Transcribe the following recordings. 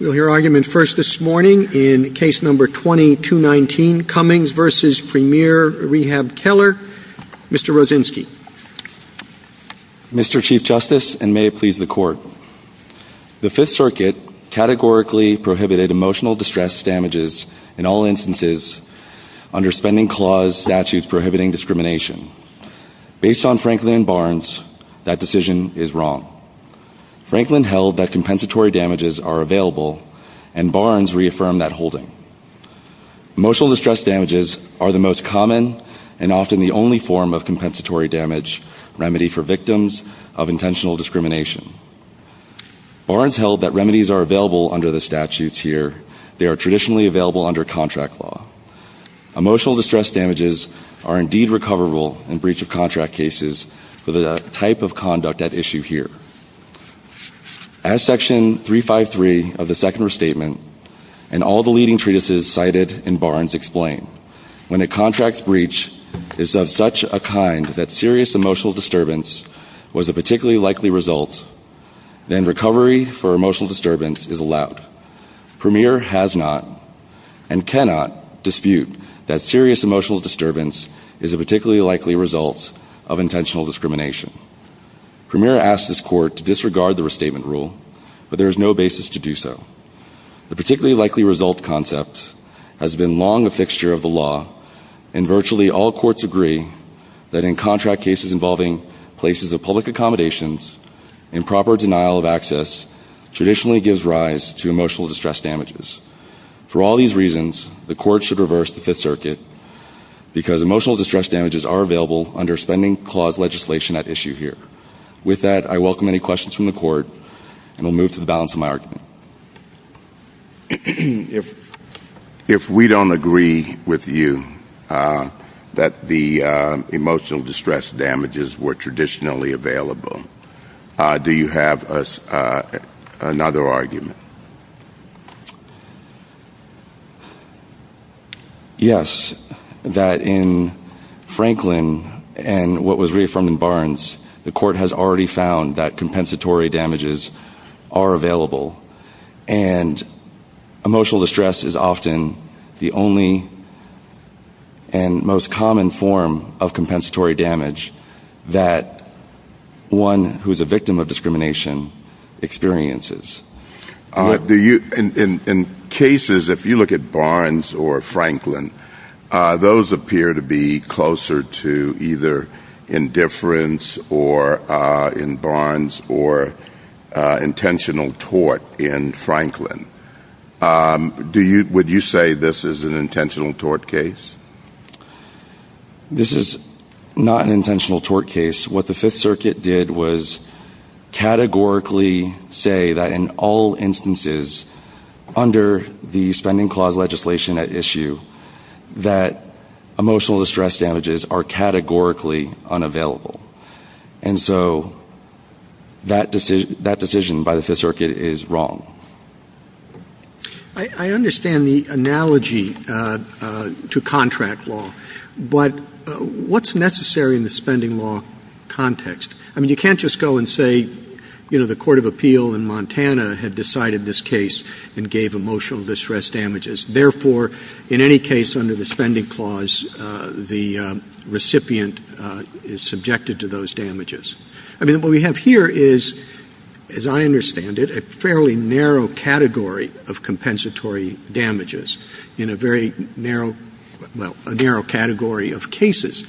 We'll hear argument first this morning in case number 20-219, Cummings v. Premier Rehab Keller. Mr. Rosensky. Mr. Chief Justice, and may it please the Court, the Fifth Circuit categorically prohibited emotional distress damages in all instances under spending clause statutes prohibiting discrimination. Based on Franklin and Barnes, that decision is wrong. Franklin held that removal, and Barnes reaffirmed that holding. Emotional distress damages are the most common and often the only form of compensatory damage remedy for victims of intentional discrimination. Barnes held that remedies are available under the statutes here. They are traditionally available under contract law. Emotional distress damages are indeed recoverable in breach of contract cases for the type of conduct at issue here. As Section 353 of the Second Restatement and all the leading treatises cited in Barnes explain, when a contract breach is of such a kind that serious emotional disturbance was a particularly likely result, then recovery for emotional disturbance is allowed. Premier has not, and cannot, dispute that serious emotional disturbance is a particularly likely result of intentional discrimination. Premier asked this Court to disregard the restatement rule, but there is no basis to do so. The particularly likely result concept has been long a fixture of the law, and virtually all courts agree that in contract cases involving places of public accommodations, improper denial of access traditionally gives rise to emotional distress damages. For all these reasons, the Court should reverse the Fifth Article under Spending Clause legislation at issue here. With that, I welcome any questions from the Court, and will move to the balance of my argument. If we don't agree with you that the emotional distress damages were traditionally available, do you have another argument? Yes, that in Franklin and what was reaffirmed in Barnes, the Court has already found that compensatory damages are available, and emotional distress is often the only and most common form of compensatory damage that one who is a victim of discrimination experiences. In cases, if you look at Barnes or Franklin, those appear to be closer to either indifference or in Barnes or intentional tort in Franklin. Would you say this is an intentional tort case? This is not an intentional tort case. What the Fifth Circuit did was categorically say that in all instances under the Spending Clause legislation at issue that emotional distress damages are categorically unavailable. That decision by the Fifth Circuit is wrong. I understand the analogy to contract law, but what's necessary in the spending law context? You can't just go and say the Court of Appeal in Montana had decided this case and gave emotional distress damages. Therefore, in any case under the Spending Clause, the recipient is subjected to those damages. What we have here is, as I understand it, a fairly narrow category of compensatory damages in a very narrow category of cases.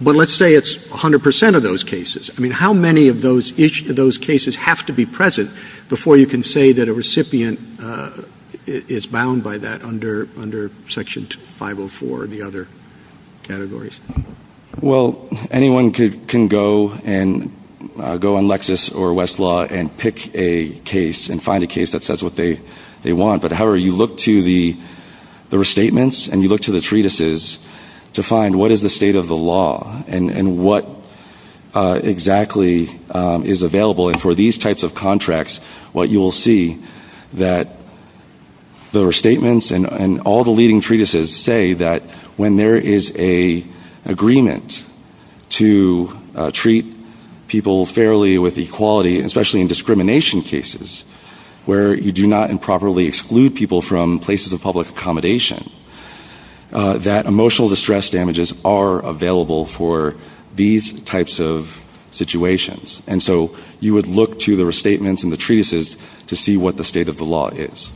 Let's say it's 100 percent of those cases. How many of each of those cases have to be present before you can say that a recipient is bound by that under Section 504 and the other categories? Anyone can go on Lexis or Westlaw and pick a case and find a case that says what they want. However, you look to the restatements and you look to the treatises to find what is the state of the law and what exactly is available. For these types of contracts, you will see that the restatements and all the leading treatises say that when there is an agreement to treat people fairly with equality, especially in discrimination cases where you do not improperly exclude people from places of public accommodation, that emotional distress damages are available for these types of situations. And so you would look to the restatements and the treatises to see what the state of the law is.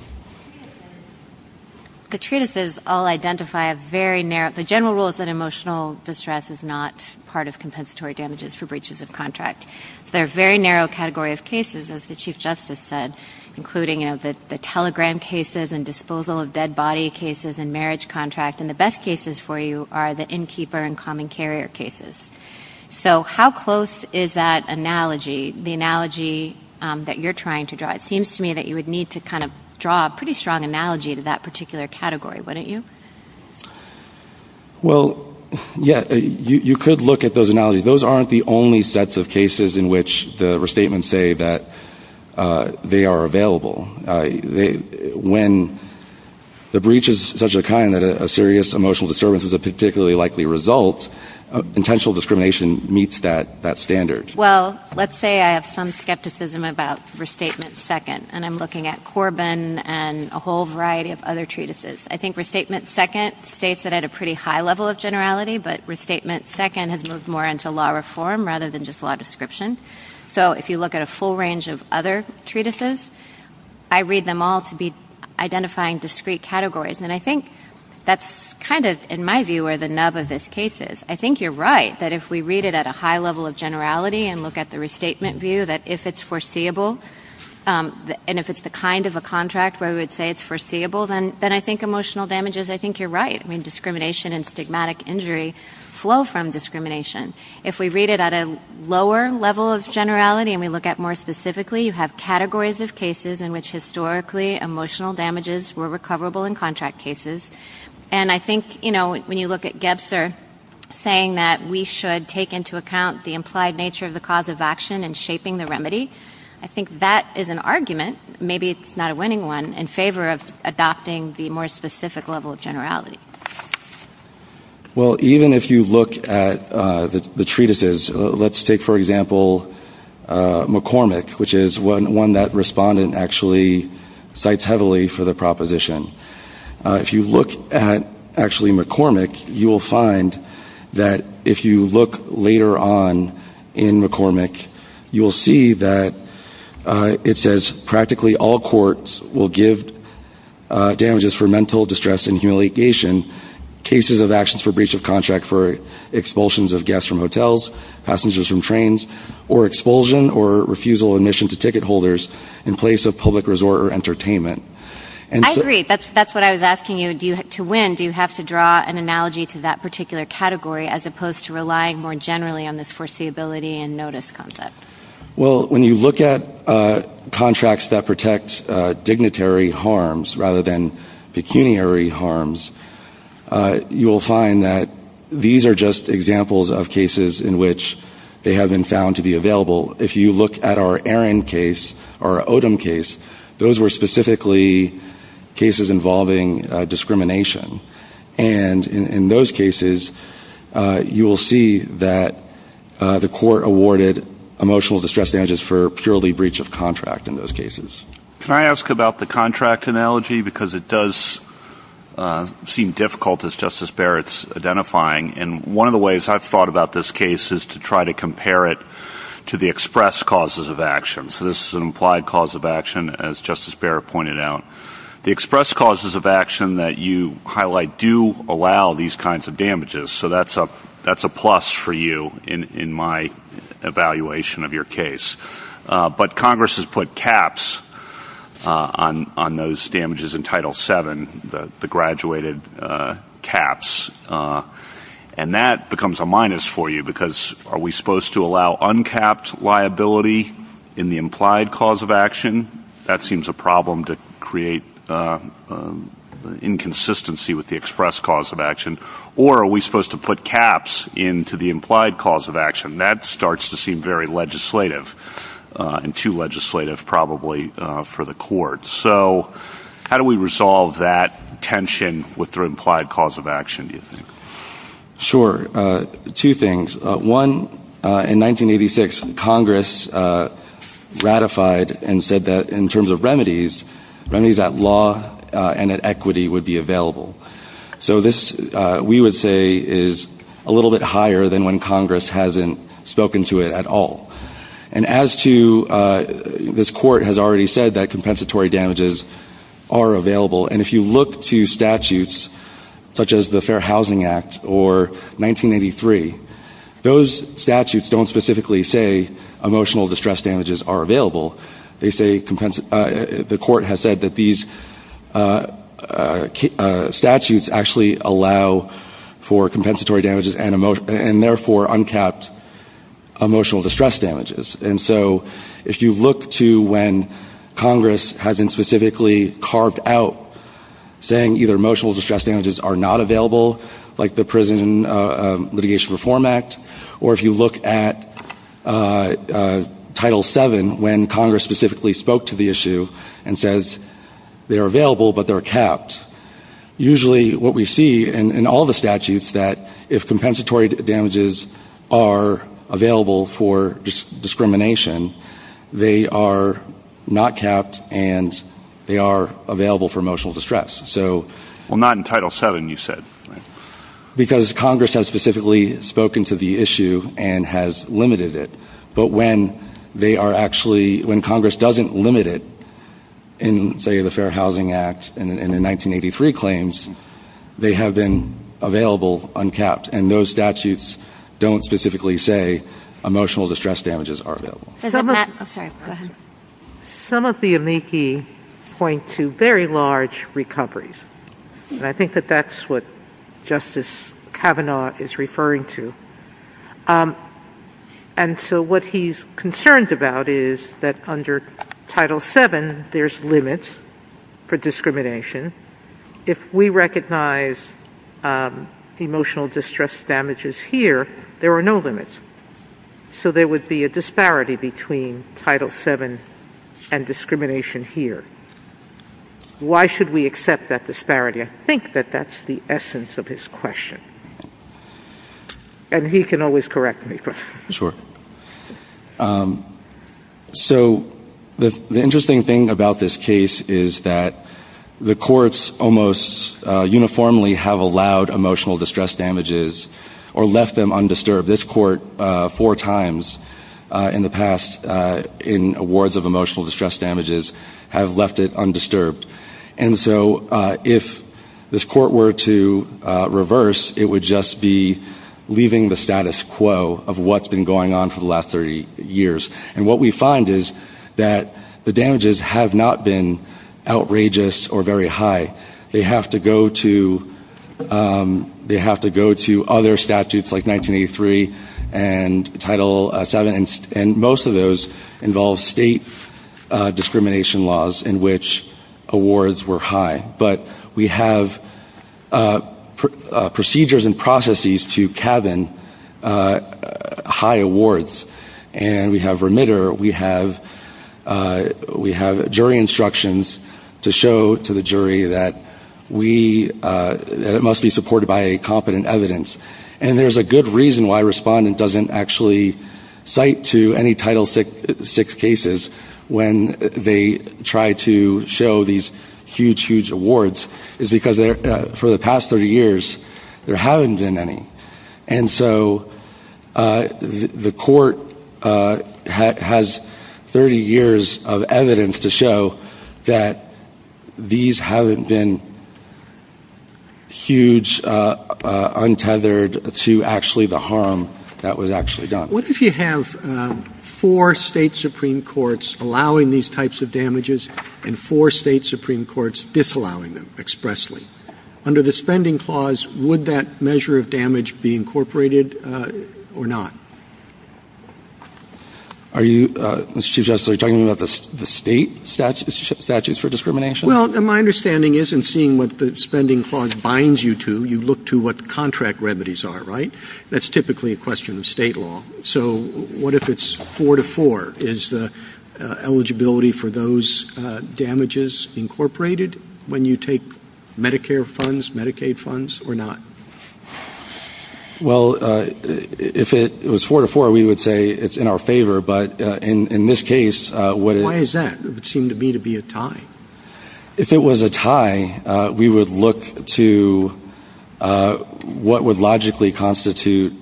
The treatises all identify a very narrow category of cases. The general rule is that emotional distress is not part of compensatory damages for breaches of contract. They're a very narrow category of cases, as the Chief Justice said, including the telegram cases and disposal of dead body cases and marriage contracts. And the best cases for you are the innkeeper and common carrier cases. So how close is that analogy, the analogy that you're trying to draw? It seems to me that you would need to kind of draw a pretty strong analogy to that particular category, wouldn't you? Well, yes, you could look at those analogies. Those aren't the only sets of cases in which the restatements say that they are available. When the breach is such a kind that a serious emotional disturbance is a particularly likely result, potential discrimination meets that standard. Well, let's say I have some skepticism about Restatement 2nd, and I'm looking at Corbin and a whole variety of other treatises. I think Restatement 2nd states it at a pretty high level of generality, but Restatement 2nd has moved more into law reform rather than just law description. So if you look at a full range of other treatises, I read them all to be identifying discrete categories. And I think that's kind of, in my view, where the nub of this case is. I think you're right that if we read it at a high level of generality and look at the restatement view, that if it's foreseeable, and if it's the kind of a contract where we would say it's foreseeable, then I think emotional damage is, I think you're right. I mean, discrimination and stigmatic injury flow from discrimination. If we read it at a lower level of generality and we look at more specifically, you have categories of cases in which historically emotional damages were recoverable in contract cases. And I think, you know, when you look at Gebster saying that we should take into account the implied nature of the cause of action in shaping the remedy, I think that is an argument, maybe it's not a winning one, in favor of adopting the more specific level of generality. Well, even if you look at the treatises, let's take, for example, McCormick, which is one that respondent actually cites heavily for the proposition. If you look at actually McCormick, you will find that if you look later on in McCormick, you will see that it says practically all courts will give damages for mental distress and humiliation, cases of actions for breach of contract for expulsions of guests from hotels, passengers from trains, or expulsion or refusal of admission to ticket holders in place of public resort or entertainment. I agree. That's what I was asking you. To win, do you have to draw an analogy to that particular category as opposed to relying more generally on this foreseeability and notice concept? Well, when you look at contracts that protect dignitary harms rather than pecuniary harms, you will find that these are just examples of cases in which they have been found to be available. If you look at our Aaron case, our Odom case, those were specifically cases involving discrimination. And in those cases, you will see that the court awarded emotional distress damages for purely breach of contract in those cases. Can I ask about the contract analogy? Because it does seem difficult, as Justice Barrett's identifying. And one of the ways I've thought about this case is to try to compare it to the express causes of action. So this is an implied cause of action, as Justice Barrett pointed out. The express causes of action that you highlight do allow these kinds of damages. So that's a plus for you in my evaluation of your case. But Congress has put caps on those damages in Title VII, the graduated caps. And that becomes a minus for you because are we supposed to allow uncapped liability in the implied cause of action? That seems a problem to create inconsistency with the express cause of action. Or are we supposed to put caps into the implied cause of action? That starts to seem very legislative and too legislative, probably, for the court. So how do we resolve that tension with the implied cause of action? Sure. Two things. One, in 1986, Congress ratified and said that in terms of remedies, remedies at law and at equity would be available. So this, we would say, is a little bit higher than when Congress hasn't spoken to it at all. And as to, this court has already said that compensatory damages are available. And if you look to statutes such as the Fair Housing Act or 1983, those statutes don't specifically say emotional distress damages are available. They say, the court has said that these statutes actually allow for compensatory damages. Congress hasn't specifically carved out saying either emotional distress damages are not available, like the Prison Litigation Reform Act, or if you look at Title VII, when Congress specifically spoke to the issue and says they are available but they are capped. Usually what we see in all the statutes is that if compensatory damages are available for discrimination, they are not capped and they are available for emotional distress. So... Well, not in Title VII, you said. Because Congress has specifically spoken to the issue and has limited it. But when they are actually, when Congress doesn't limit it in, say, the Fair Housing Act and the 1983 claims, they have been available uncapped. And those statutes don't specifically say emotional distress damages are available. I'm sorry, go ahead. Some of the amici point to very large recoveries. And I think that that's what Justice Kavanaugh is referring to. And so what he's concerned about is that under Title VII, there's limits for discrimination. If we recognize emotional distress damages here, there are no limits. So there would be a disparity between Title VII and discrimination here. Why should we accept that disparity? I think that that's the essence of his question. And he can always correct me. Sure. So the interesting thing about this case is that the courts almost uniformly have allowed emotional distress damages or left them undisturbed. This court four times in the past in awards of emotional distress damages have left it undisturbed. And so if this court were to look at what's been going on for the last 30 years, and what we find is that the damages have not been outrageous or very high. They have to go to other statutes like 1983 and Title VII, and most of those involve state discrimination laws in which awards were high. But we have procedures and processes to cabin high awards. And we have remitter. We have jury instructions to show to the jury that it must be supported by competent evidence. And there's a good reason why a respondent doesn't actually cite to any Title VI cases when they try to show these huge, huge awards is because for the past 30 years there haven't been any. And so the court has 30 years of evidence to show that these haven't been huge, untethered to actually the harm that was actually done. What if you have four state Supreme Courts allowing these types of damages and four state Supreme Courts disallowing them expressly? Under the Spending Clause, would that measure of damage be incorporated or not? Are you, Mr. Chief Justice, talking about the state statutes for discrimination? Well, my understanding is in seeing what the Spending Clause binds you to, you look to what contract remedies are, right? That's typically a question of state law. So what if it's four to four? Is the eligibility for those damages incorporated when you take Medicare funds, Medicaid funds, or not? Well, if it was four to four, we would say it's in our favor. But in this case, what Why is that? It seemed to me to be a tie. If it was a tie, we would look to what would logically constitute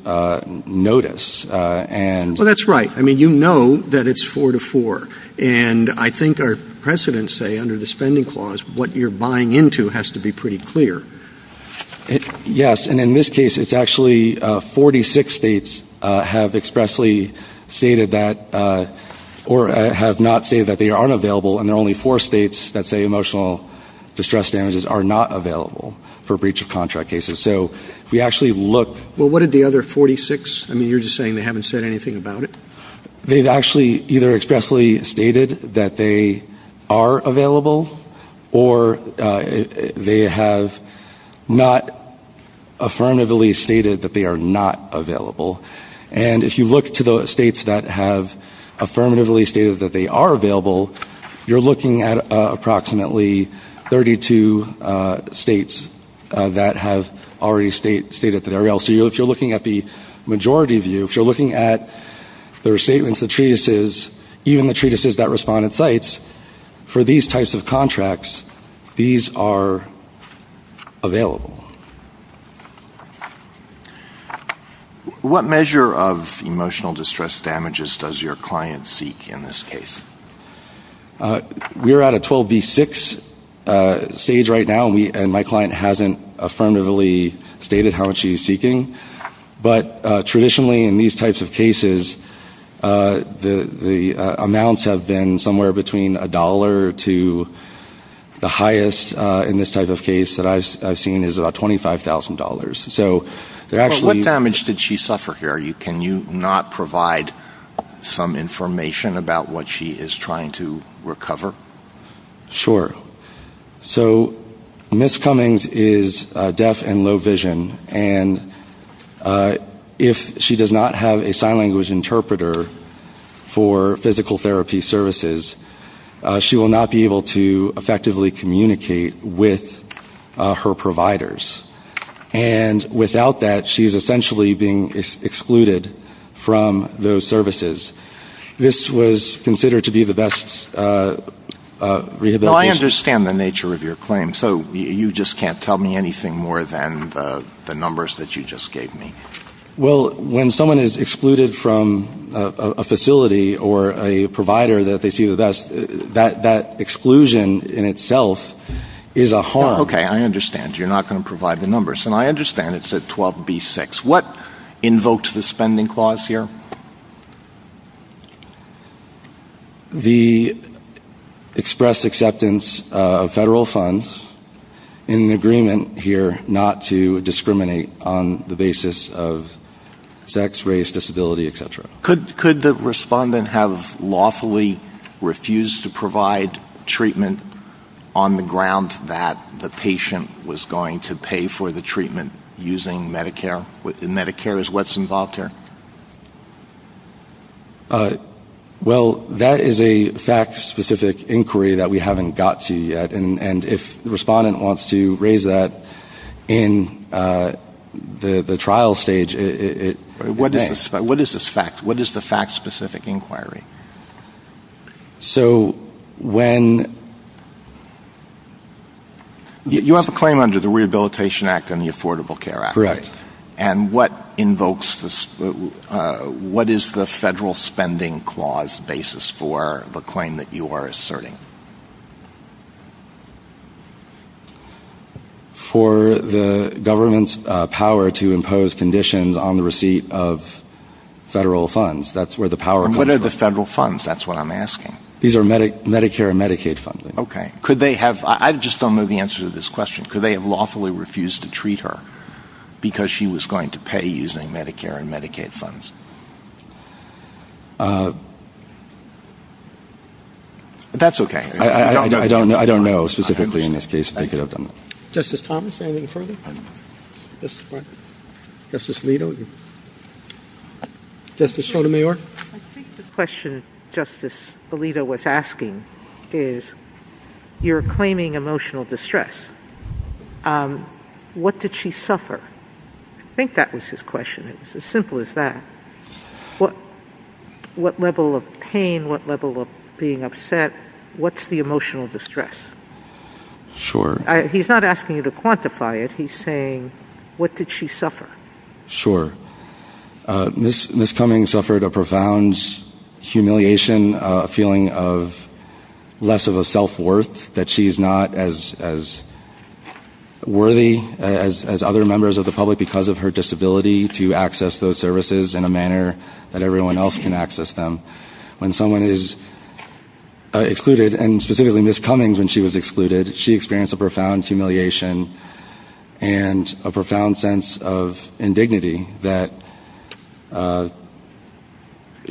notice. Well, that's right. I mean, you know that it's four to four. And I think our precedents say under the Spending Clause, what you're buying into has to be pretty clear. Yes. And in this case, it's actually 46 states have expressly stated that or have not stated that they aren't available. And there are only four states that say emotional distress damages are not available for breach of contract cases. So we actually look Well, what did the other 46? I mean, you're just saying they haven't said anything about it. They've actually either expressly stated that they are available, or they have not affirmatively stated that they are not available. And if you look to the states that have affirmatively stated that they are available, you're looking at approximately 32 states that have already stated that they are available. So if you're looking at the majority of you, if you're looking at their statements, the treatises, even the treatises that respond at sites, for these types of contracts, these are available. Okay. What measure of emotional distress damages does your client seek in this case? We're at a 12B6 stage right now, and my client hasn't affirmatively stated how much she's seeking. But traditionally, in these types of cases, the amounts have been somewhere between $1 to the highest in this type of case that I've seen is about $25,000. So what damage did she suffer here? Can you not provide some information about what she is trying to recover? Sure. So Ms. Cummings is deaf and low vision, and if she does not have a sign language interpreter for physical therapy services, she will not be able to effectively communicate with her providers. And without that, she is essentially being excluded from those services. This was considered to be the best rehabilitation... Now I understand the nature of your claim, so you just can't tell me anything more than the numbers that you just gave me. Well, when someone is excluded from a facility or a provider that they see the best, that exclusion in itself is a harm. Okay. I understand. You're not going to provide the numbers. And I understand it's at 12B6. What invoked the spending clause here? The expressed acceptance of federal funds in the agreement here not to discriminate on the basis of sex, race, disability, et cetera. Could the respondent have lawfully refused to provide treatment on the ground that the patient was going to pay for the treatment using Medicare? And Medicare is what's involved here? Well, that is a fact-specific inquiry that we haven't got to yet. And if the respondent wants to raise that in the trial stage, it can. What is this fact? What is the fact-specific inquiry? So when... You have a claim under the Rehabilitation Act and the Affordable Care Act. Correct. And what invokes this? What is the federal spending clause basis for the claim that you are asserting? For the government's power to impose conditions on the receipt of federal funds. That's where the power comes from. And what are the federal funds? That's what I'm asking. These are Medicare and Medicaid funding. Okay. I just don't know the answer to this question. Could they have lawfully refused to treat her because she was going to pay using Medicare and Medicaid funds? That's okay. I don't know. I don't know specifically in this case. Justice Thomas, anything further? Justice Alito? Justice Sotomayor? I think the question Justice Alito was asking is, you're claiming emotional distress. What did she suffer? I think that is his question. It's as simple as that. What level of pain, what level of being upset, what's the emotional distress? Sure. He's not asking you to quantify it. He's saying, what did she suffer? Sure. Ms. Cummings suffered a profound humiliation, a feeling of less of a self-worth, that she's not as worthy as other members of the public because of her disability to access those services. And Ms. Cummings, when she was excluded, she experienced a profound humiliation and a profound sense of indignity that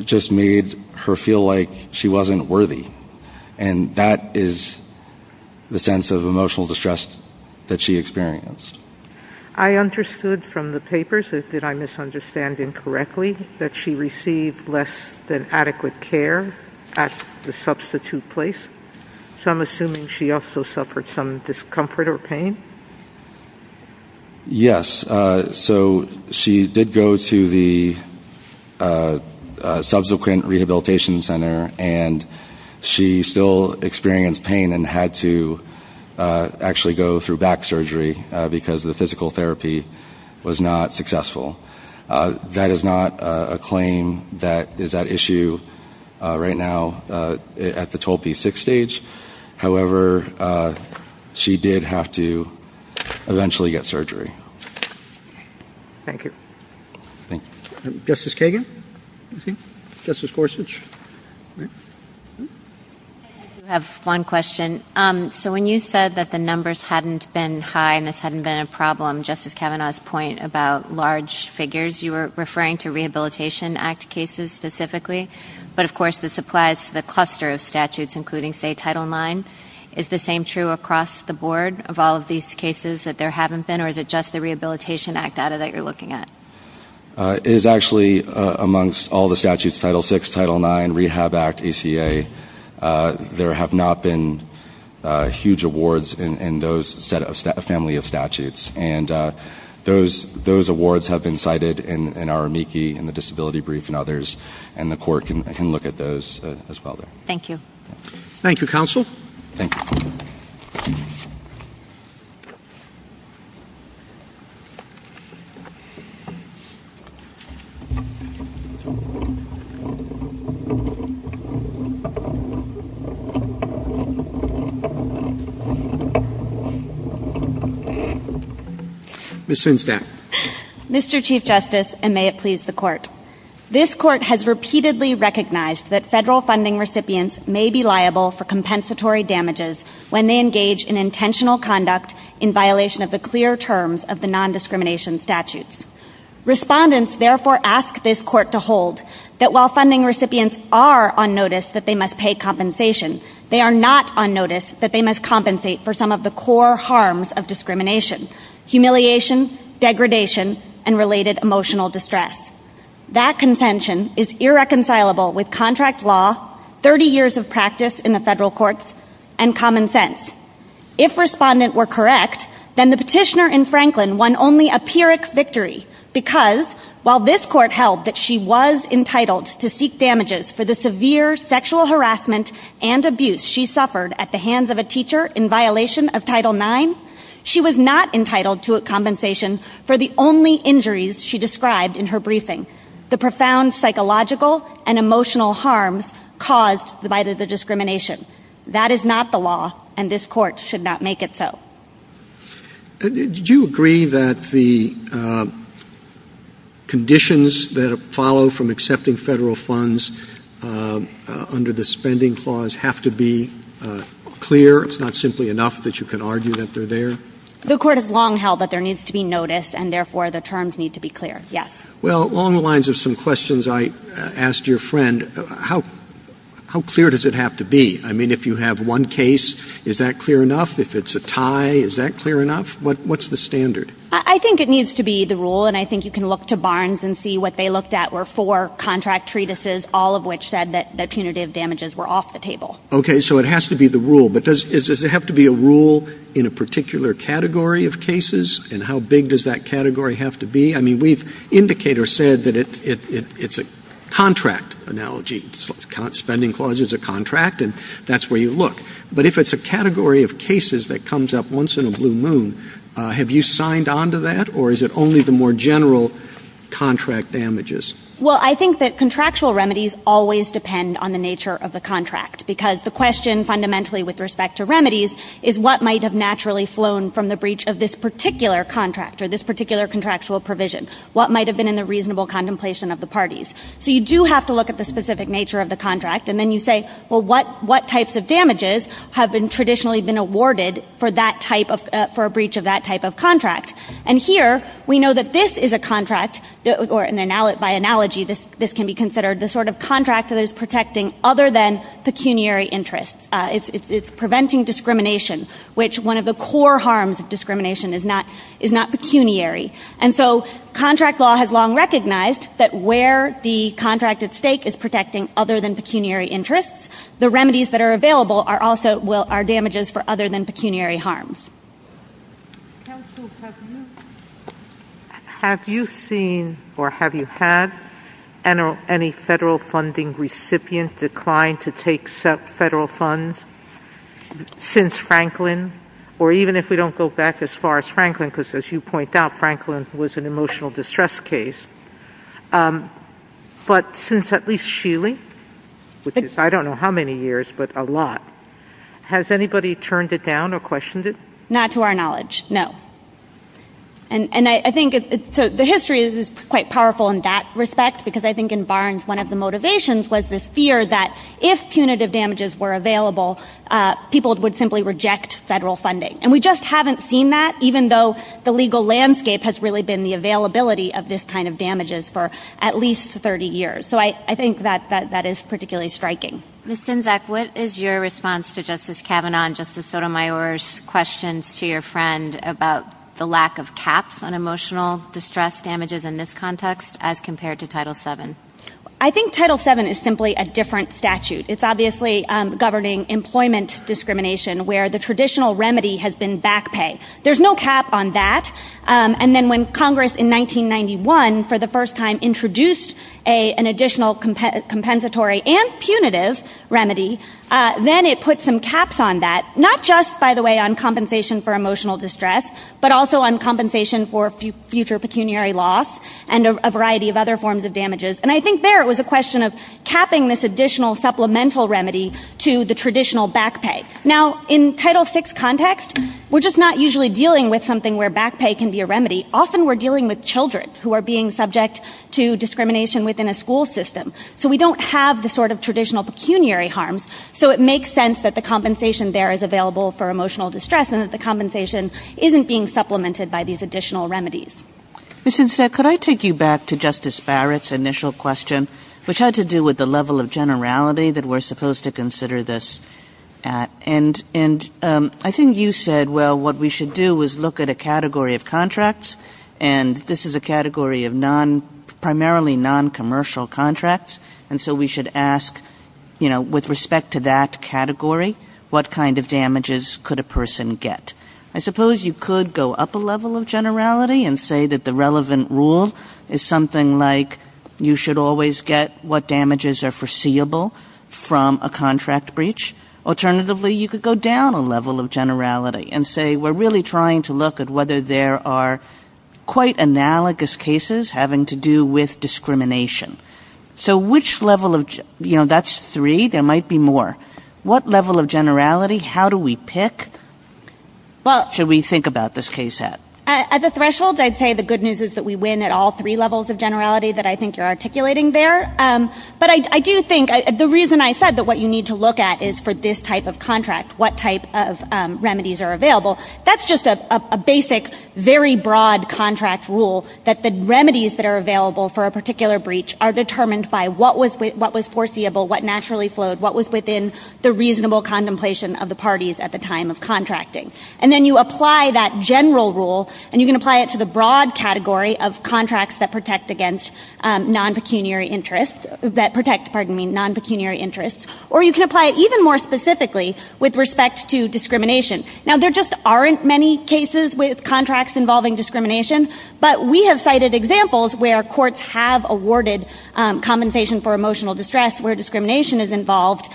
just made her feel like she wasn't worthy. And that is the sense of emotional distress that she experienced. I understood from the papers, if I'm misunderstanding correctly, that she received less than adequate care at the substitute place. So I'm assuming she also suffered some discomfort or pain? Yes. So she did go to the subsequent rehabilitation center and she still experienced pain and had to actually go through back surgery because the physical therapy was not successful. That is not a claim that is at issue right now at the total P6 stage. However, she did have to eventually get surgery. Thank you. Justice Kagan? Justice Gorsuch? I have one question. So when you said that the numbers hadn't been high and there hadn't been a problem, Justice Kavanaugh's point about large figures, you were referring to Rehabilitation Act cases specifically, but of course this applies to the cluster of statutes including, say, Title IX. Is the same true across the board of all of these cases that there haven't been or is it just the Rehabilitation Act data that you're looking at? It is actually amongst all the statutes, Title VI, Title IX, Rehab Act, ACA. There have not been huge awards in those family of statutes. Those awards have been cited in our amici in the disability brief and others and the court can look at those as well. Thank you. Thank you, Counsel. Ms. Sundstad? Mr. Chief Justice, and may it please the Court, this Court has repeatedly recognized that federal funding recipients may be liable for compensatory damages when they engage in intentional conduct in violation of the clear terms of the nondiscrimination statutes. Respondents therefore ask this Court to hold that while funding recipients are on notice that they must pay compensation, they are not on notice that they must compensate for some of the core harms of discrimination, humiliation, degradation, and related emotional distress. That contention is irreconcilable with contract law, 30 years of practice in the federal courts, and common sense. If Respondent were correct, then the petitioner in Franklin won only a pyrrhic victory because while this Court held that she was entitled to seek damages for the severe sexual harassment and abuse she suffered at the hands of a teacher in violation of Title IX, she was not entitled to compensation for the only injuries she described in her briefing, the profound psychological and emotional harm caused by the discrimination. That is not the law and this Court should not make it so. Did you agree that the conditions that follow from accepting federal funds are not sufficient under the spending clause have to be clear? It's not simply enough that you can argue that they're there? The Court has long held that there needs to be notice and therefore the terms need to be clear, yes. Well, along the lines of some questions I asked your friend, how clear does it have to be? I mean, if you have one case, is that clear enough? If it's a tie, is that clear enough? What's the standard? I think it needs to be the rule and I think you can look to Barnes and see what they looked at were four contract treatises, all of which said that punitive damages were off the table. Okay, so it has to be the rule, but does it have to be a rule in a particular category of cases and how big does that category have to be? I mean, we've indicated or said that it's a contract analogy. Spending clause is a contract and that's where you look. But if it's a category of cases that comes up once in a blue moon, have you signed on to that or is it only the more general contract damages? Well, I think that contractual remedies always depend on the nature of the contract because the question fundamentally with respect to remedies is what might have naturally flown from the breach of this particular contract or this particular contractual provision. What might have been in the reasonable contemplation of the parties? So you do have to look at the specific nature of the contract and then you say, well, what types of damages have been traditionally been awarded for that type of, for a breach of that type of contract? And here we know that this is a contract or by analogy this can be considered the sort of contract that is protecting other than pecuniary interests. It's preventing discrimination, which one of the core harms of discrimination is not pecuniary. And so contract law has long recognized that where the contract at stake is protecting other than pecuniary interests, the remedies that are available are also will, are damages for other than pecuniary harms. Have you seen or have you had any federal funding recipient decline to take federal funds since Franklin or even if we don't go back as far as Franklin, because as you point out, Franklin was an emotional distress case. But since at least Shealy, which is, I don't know how many years, but a lot, has anybody turned it down or questioned it? Not to our knowledge. No. And I think the history is quite powerful in that respect because I think in Barnes, one of the motivations was this fear that if punitive damages were available, people would simply reject federal funding. And we just haven't seen that even though the legal landscape has really been the availability of this kind of damages for at least 30 years. So I think that is particularly striking. What is your response to Justice Kavanaugh and Justice Sotomayor's question to your friend about the lack of caps on emotional distress damages in this context as compared to Title VII? I think Title VII is simply a different statute. It's obviously governing employment discrimination where the traditional remedy has been back pay. There's no cap on that. And then when Congress in 1991 for the first time introduced an additional compensatory and punitive remedy, then it put some caps on that. Not just, by the way, on compensation for emotional distress, but also on compensation for future pecuniary loss and a variety of other forms of damages. And I think there it was a question of capping this additional supplemental remedy to the traditional back pay. Now, in Title VI context, we're just not usually dealing with something where back pay can be a remedy. Often we're dealing with children who are being subject to discrimination within a school system. So we don't have the sort of traditional pecuniary harm. So it makes sense that the compensation there is available for emotional distress and that the compensation isn't being supplemented by these additional remedies. Could I take you back to Justice Barrett's initial question, which had to do with the level of generality that we're supposed to consider this at? And I think you said, well, what we should do is look at a category of contracts, and this is a category of primarily noncommercial contracts, and so we should ask, you know, with respect to that category, what kind of damages could a person get? I suppose you could go up a level of generality and say that the relevant rule is something like you should always get what damages are foreseeable from a contract breach. Alternatively, you could go down a level of generality and say we're really trying to look at whether there are quite analogous cases having to do with discrimination. So which level of, you know, that's three, there might be more. What level of generality, how do we pick? What should we think about this case at? As a threshold, I'd say the good news is that we win at all three levels of generality that I think you're articulating there. But I do think, the reason I said that what you need to look at is for this type of contract, what type of remedies are available, that's just a basic, very broad contract rule that the remedies that are available for a particular breach are determined by what was foreseeable, what naturally flowed, what was within the reasonable contemplation of the parties at the time of contracting. And then you apply that general rule and you can apply it to the broad category of contracts that protect against non-pecuniary interests, that protects, pardon me, non-pecuniary interests, or you can apply it even more specifically with respect to discrimination. Now there just aren't many cases with contracts involving discrimination, but we have cited examples where courts have awarded compensation for emotional distress where discrimination is involved.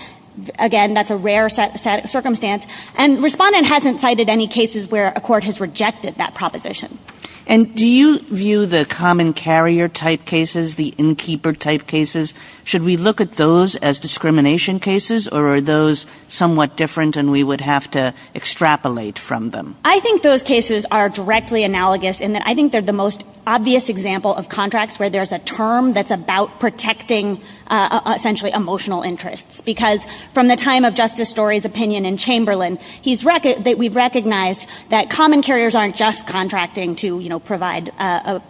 Again, that's a rare circumstance. And Respondent hasn't cited any cases where a court has rejected that proposition. And do you view the common carrier type cases, the innkeeper type cases, should we look at those as discrimination cases or are those somewhat different and we would have to extrapolate from them? I think those cases are directly analogous in that I think they're the most obvious example of contracts where there's a term that's about protecting essentially emotional interests. Because from the time of Justice Story's opinion in Chamberlain, we've recognized that common carriers aren't just contracting to provide a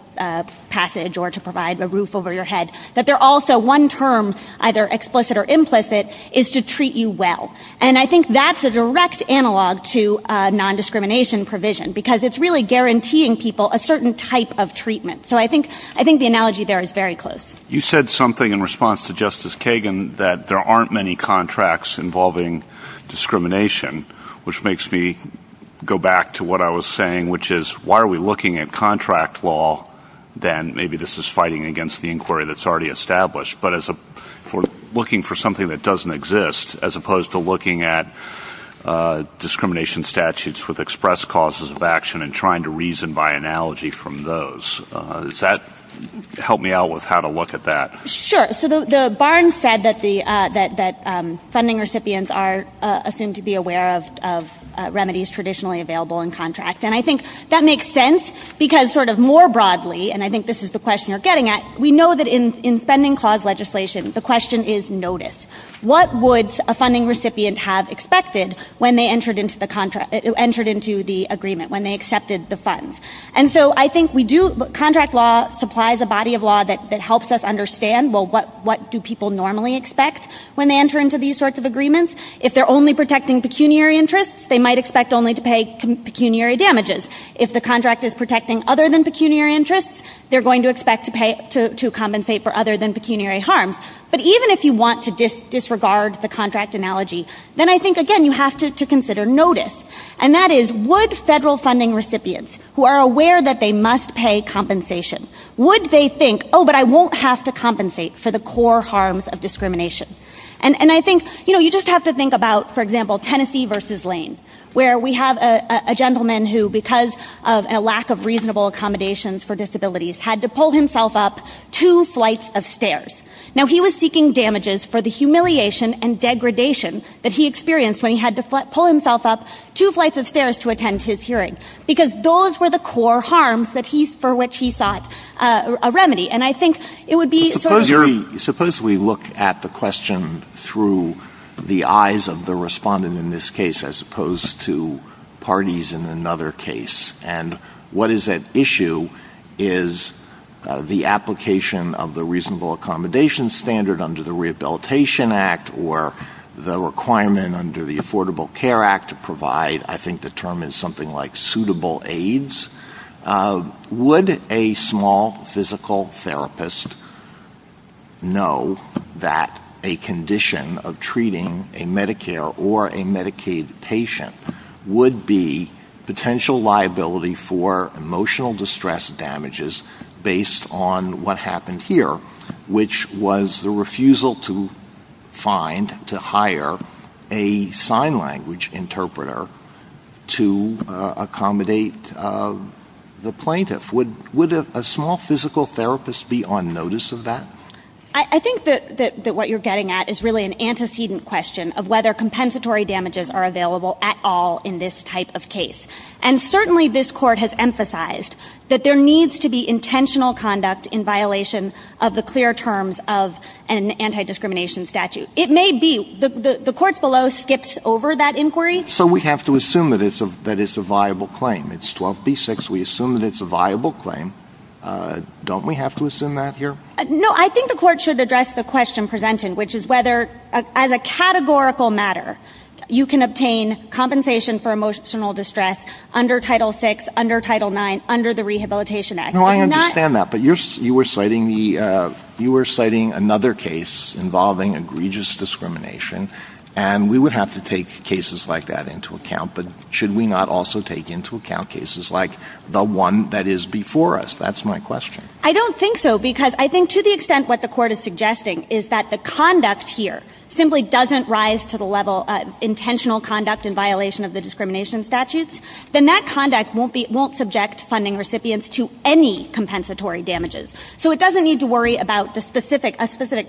passage or to provide a roof over your head, but they're also one term, either explicit or implicit, is to treat you well. And I think that's a direct analog to non-discrimination provision because it's really guaranteeing people a certain type of treatment. So I think the analogy there is very close. You said something in response to Justice Kagan that there aren't many contracts involving discrimination, which makes me go back to what I was saying, which is why are we looking at contract law, then maybe this is fighting against the inquiry that's already established. But looking for something that doesn't exist as opposed to looking at discrimination statutes with expressed causes of action and trying to reason by analogy from those. Does that help me out with how to look at that? Sure. So the Barnes said that funding recipients are assumed to be aware of remedies traditionally available in contracts. And I think that makes sense because sort of more broadly, and I think this is the question you're getting at, we know that in spending clause legislation, the question is notice. What would a funding recipient have expected when they entered into the agreement, when they accepted the funds? And so I think we do, contract law supplies a body of law that helps us understand, well, what do people normally expect when they enter into these sorts of agreements? If they're only protecting pecuniary interests, they might expect only to pay pecuniary damages. If the contract is protecting other than pecuniary interests, they're going to expect to compensate for other than pecuniary harm. But even if you want to disregard the contract analogy, then I think, again, you have to consider notice. And that is, would federal funding recipients who are aware that they must pay compensation, would they think, oh, but I won't have to compensate for the core harms of discrimination? And I think, you know, you just have to think about, for example, Tennessee versus Lane, where we have a gentleman who, because of a lack of reasonable accommodations for disabilities, had to pull himself up two flights of stairs. Now, he was seeking damages for the humiliation and degradation that he experienced when he had to pull himself up two flights of stairs to attend his hearing. Because those were the core harms for which he sought a remedy. Suppose we look at the question through the eyes of the respondent in this case as opposed to parties in another case. And what is at issue is the application of the reasonable accommodation standard under the Rehabilitation Act or the requirement under the Affordable Care Act to provide, I think the term is something like suitable aids. Would a small physical therapist know that a condition of treating a Medicare or a Medicaid patient would be potential liability for emotional distress damages based on what happened here, which was the refusal to find, to hire a sign language interpreter to accommodate the plaintiff? Would a small physical therapist be on notice of that? I think that what you're getting at is really an antecedent question of whether compensatory damages are available at all in this type of case. And certainly this court has emphasized that there needs to be intentional conduct in violation of the clear terms of an anti-discrimination statute. It may be. The court below skips over that inquiry. So we have to assume that it's a viable claim. It's 12B6. We assume that it's a viable claim. Don't we have to assume that here? No, I think the court should address the question presented, which is whether, as a categorical matter, you can obtain compensation for emotional distress under Title VI, under Title IX, under the Rehabilitation Act. No, I understand that. But you were citing another case involving egregious discrimination, and we would have to take cases like that into account. But should we not also take into account cases like the one that is before us? That's my question. I don't think so, because I think to the extent what the court is suggesting is that the conduct here simply doesn't rise to the level of intentional conduct in violation of the discrimination statute, then that conduct won't subject funding recipients to any compensatory damages. So it doesn't need to worry about a specific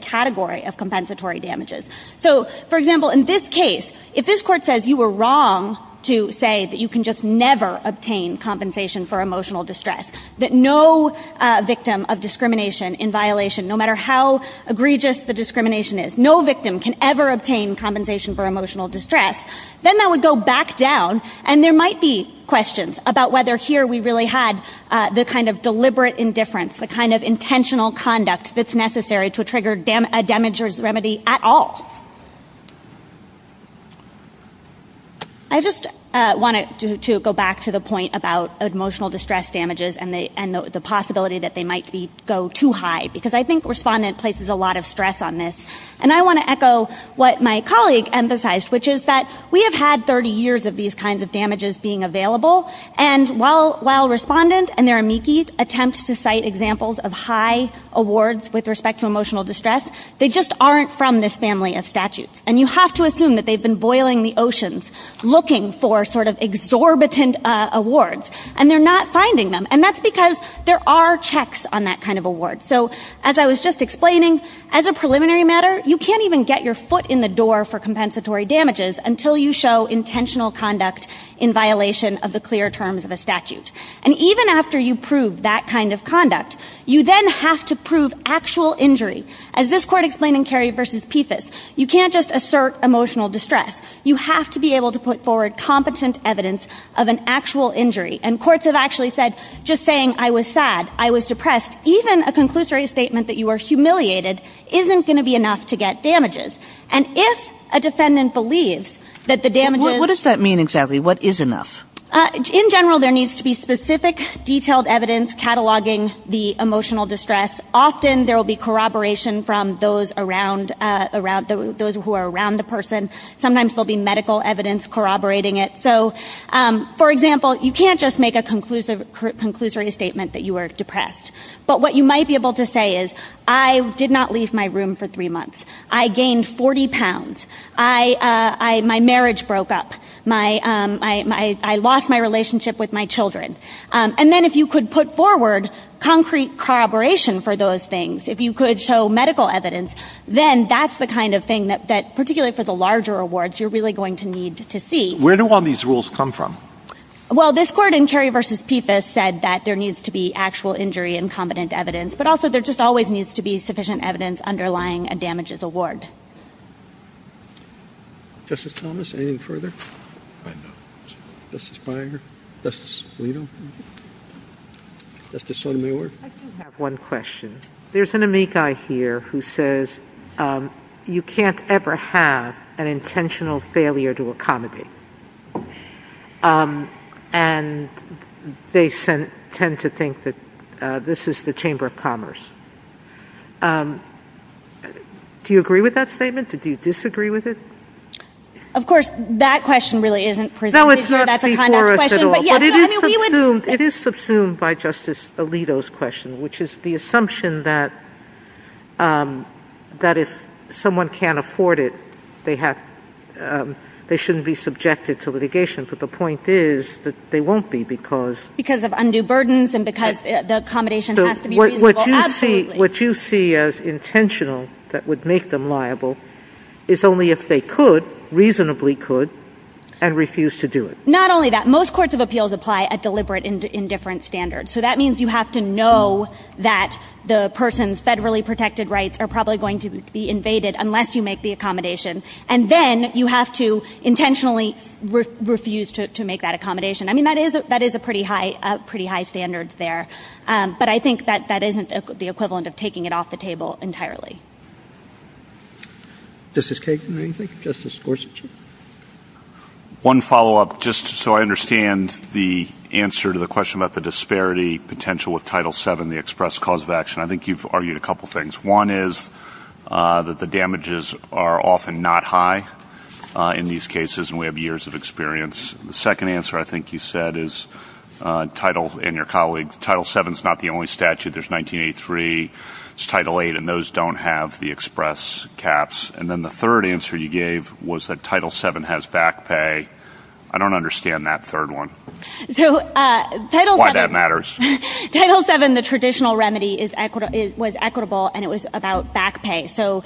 category of compensatory damages. So, for example, in this case, if this court says you were wrong to say that you can just never obtain compensation for emotional distress, that no victim of discrimination in violation, no matter how egregious the discrimination is, no victim can ever obtain compensation for emotional distress, then that would go back down, and there might be questions about whether here we really had the kind of deliberate indifference, the kind of intentional conduct that's necessary to trigger a damages remedy at all. I just wanted to go back to the point about emotional distress damages and the possibility that they might go too high, because I think Respondent places a lot of stress on this. And I want to echo what my colleague emphasized, which is that we have had 30 years of these kinds of damages being available, and while Respondent and their amici attempt to cite examples of high awards with respect to emotional distress, they just aren't from this family of statutes. And you have to assume that they've been boiling the oceans looking for sort of exorbitant awards, and they're not finding them, and that's because there are checks on that kind of award. So, as I was just explaining, as a preliminary matter, you can't even get your foot in the door for compensatory damages until you show intentional conduct in violation of the clear terms of a statute. And even after you prove that kind of conduct, you then have to prove actual injury. As this court explained in Carey v. Pepys, you can't just assert emotional distress. You have to be able to put forward competent evidence of an actual injury. And courts have actually said, just saying, I was sad, I was depressed, even a conclusory statement that you were humiliated isn't going to be enough to get damages. And if a defendant believes that the damages... What does that mean exactly? What is enough? In general, there needs to be specific, detailed evidence cataloging the emotional distress. Often there will be corroboration from those who are around the person. Sometimes there will be medical evidence corroborating it. So, for example, you can't just make a conclusory statement that you were depressed. But what you might be able to say is, I did not leave my room for three months. I gained 40 pounds. My marriage broke up. I lost my relationship with my children. And then if you could put forward concrete corroboration for those things, if you could show medical evidence, then that's the kind of thing that, particularly for the larger awards, you're really going to need to see. Where do all these rules come from? Well, this court in Carey v. Pepys said that there needs to be actual injury and competent evidence, but also there just always needs to be sufficient evidence underlying a damages award. Justice Thomas, anything further? Justice Byer? Justice Alito? Justice Sotomayor? I do have one question. There's an amici here who says, you can't ever have an intentional failure to accommodate. And they tend to think that this is the Chamber of Commerce. Do you agree with that statement? Do you disagree with it? Of course, that question really isn't presented here. No, it's not before us at all. But it is subsumed by Justice Alito's question, which is the assumption that if someone can't afford it, they shouldn't be subjected to litigation. But the point is that they won't be because... Because of undue burdens and because the accommodation has to be reasonable. What you see as intentional that would make them liable is only if they could, reasonably could, and refused to do it. Not only that. Most courts of appeals apply a deliberate indifference standard. So that means you have to know that the person's federally protected rights are probably going to be invaded unless you make the accommodation. And then you have to intentionally refuse to make that accommodation. I mean, that is a pretty high standard there. But I think that that isn't the equivalent of taking it off the table entirely. Justice Kagan, anything? Justice Gorsuch? One follow-up, just so I understand the answer to the question about the disparity potential of Title VII, the express cause of action. I think you've argued a couple of things. One is that the damages are often not high in these cases, and we have years of experience. The second answer I think you said is Title VII is not the only statute. There's 1983. There's Title VIII, and those don't have the express caps. And then the third answer you gave was that Title VII has back pay. I don't understand that third one. Why that matters. Title VII, the traditional remedy, was equitable, and it was about back pay. So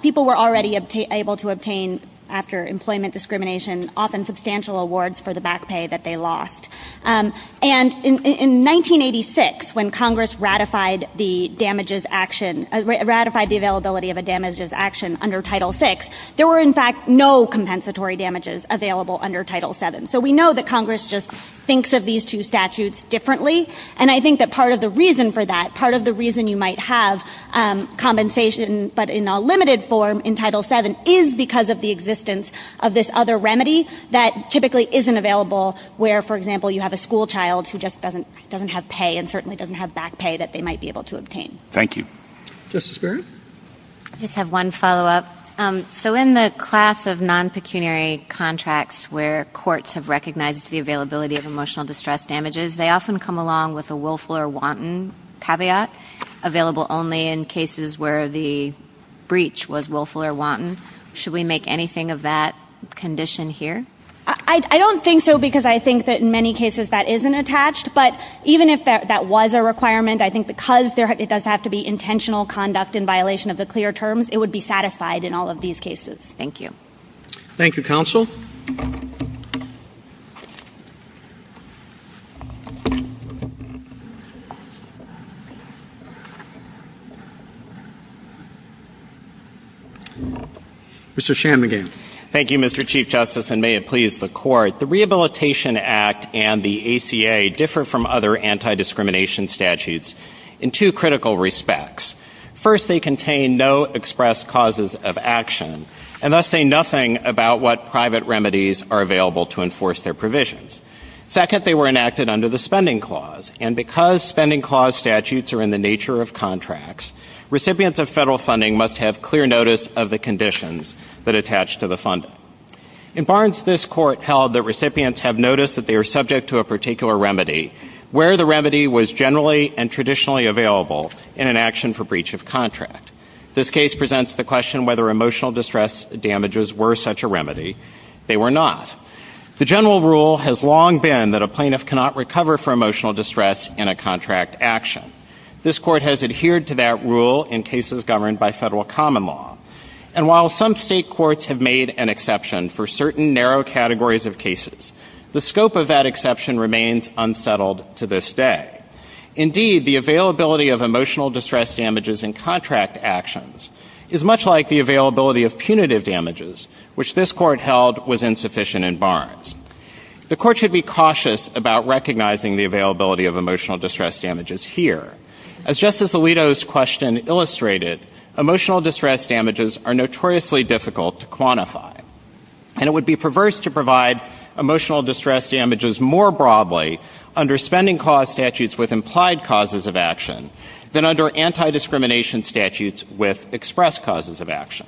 people were already able to obtain, after employment discrimination, often substantial awards for the back pay that they lost. And in 1986, when Congress ratified the availability of a damages action under Title VI, there were, in fact, no compensatory damages available under Title VII. So we know that Congress just thinks of these two statutes differently, and I think that part of the reason for that, part of the reason you might have compensation, but in a limited form in Title VII, is because of the existence of this other remedy that typically isn't available where, for example, you have a school child who just doesn't have pay and certainly doesn't have back pay that they might be able to obtain. Thank you. Justice Barrett? I just have one follow-up. So in the class of non-pecuniary contracts where courts have recognized the availability of emotional distress damages, they often come along with a willful or wanton caveat, available only in cases where the breach was willful or wanton. Should we make anything of that condition here? I don't think so, because I think that in many cases that isn't attached. But even if that was a requirement, I think because it does have to be intentional conduct in violation of the clear terms, it would be satisfied in all of these cases. Thank you. Thank you, counsel. Mr. Shanmugam. Thank you, Mr. Chief Justice, and may it please the Court. The Rehabilitation Act and the ACA differ from other anti-discrimination statutes in two critical respects. First, they contain no expressed causes of action, are available to enforce their provisions. Second, they were enacted under the Spending Clause, and because Spending Clause statutes are in the nature of contracts, recipients of federal funding must have clear notice of the conditions that attach to the funding. In Barnes, this Court held that recipients have noticed that they are subject to a particular remedy, where the remedy was generally and traditionally available in an action for breach of contract. This case presents the question whether emotional distress damages were such a remedy. They were not. The general rule has long been that a plaintiff cannot recover from emotional distress in a contract action. This Court has adhered to that rule in cases governed by federal common law. And while some state courts have made an exception for certain narrow categories of cases, the scope of that exception remains unsettled to this day. Indeed, the availability of emotional distress damages in contract actions is much like the availability of punitive damages, which this Court held was insufficient in Barnes. The Court should be cautious about recognizing the availability of emotional distress damages here. As Justice Alito's question illustrated, emotional distress damages are notoriously difficult to quantify, and it would be perverse to provide emotional distress damages more broadly under spending clause statutes with implied causes of action than under anti-discrimination statutes with expressed causes of action.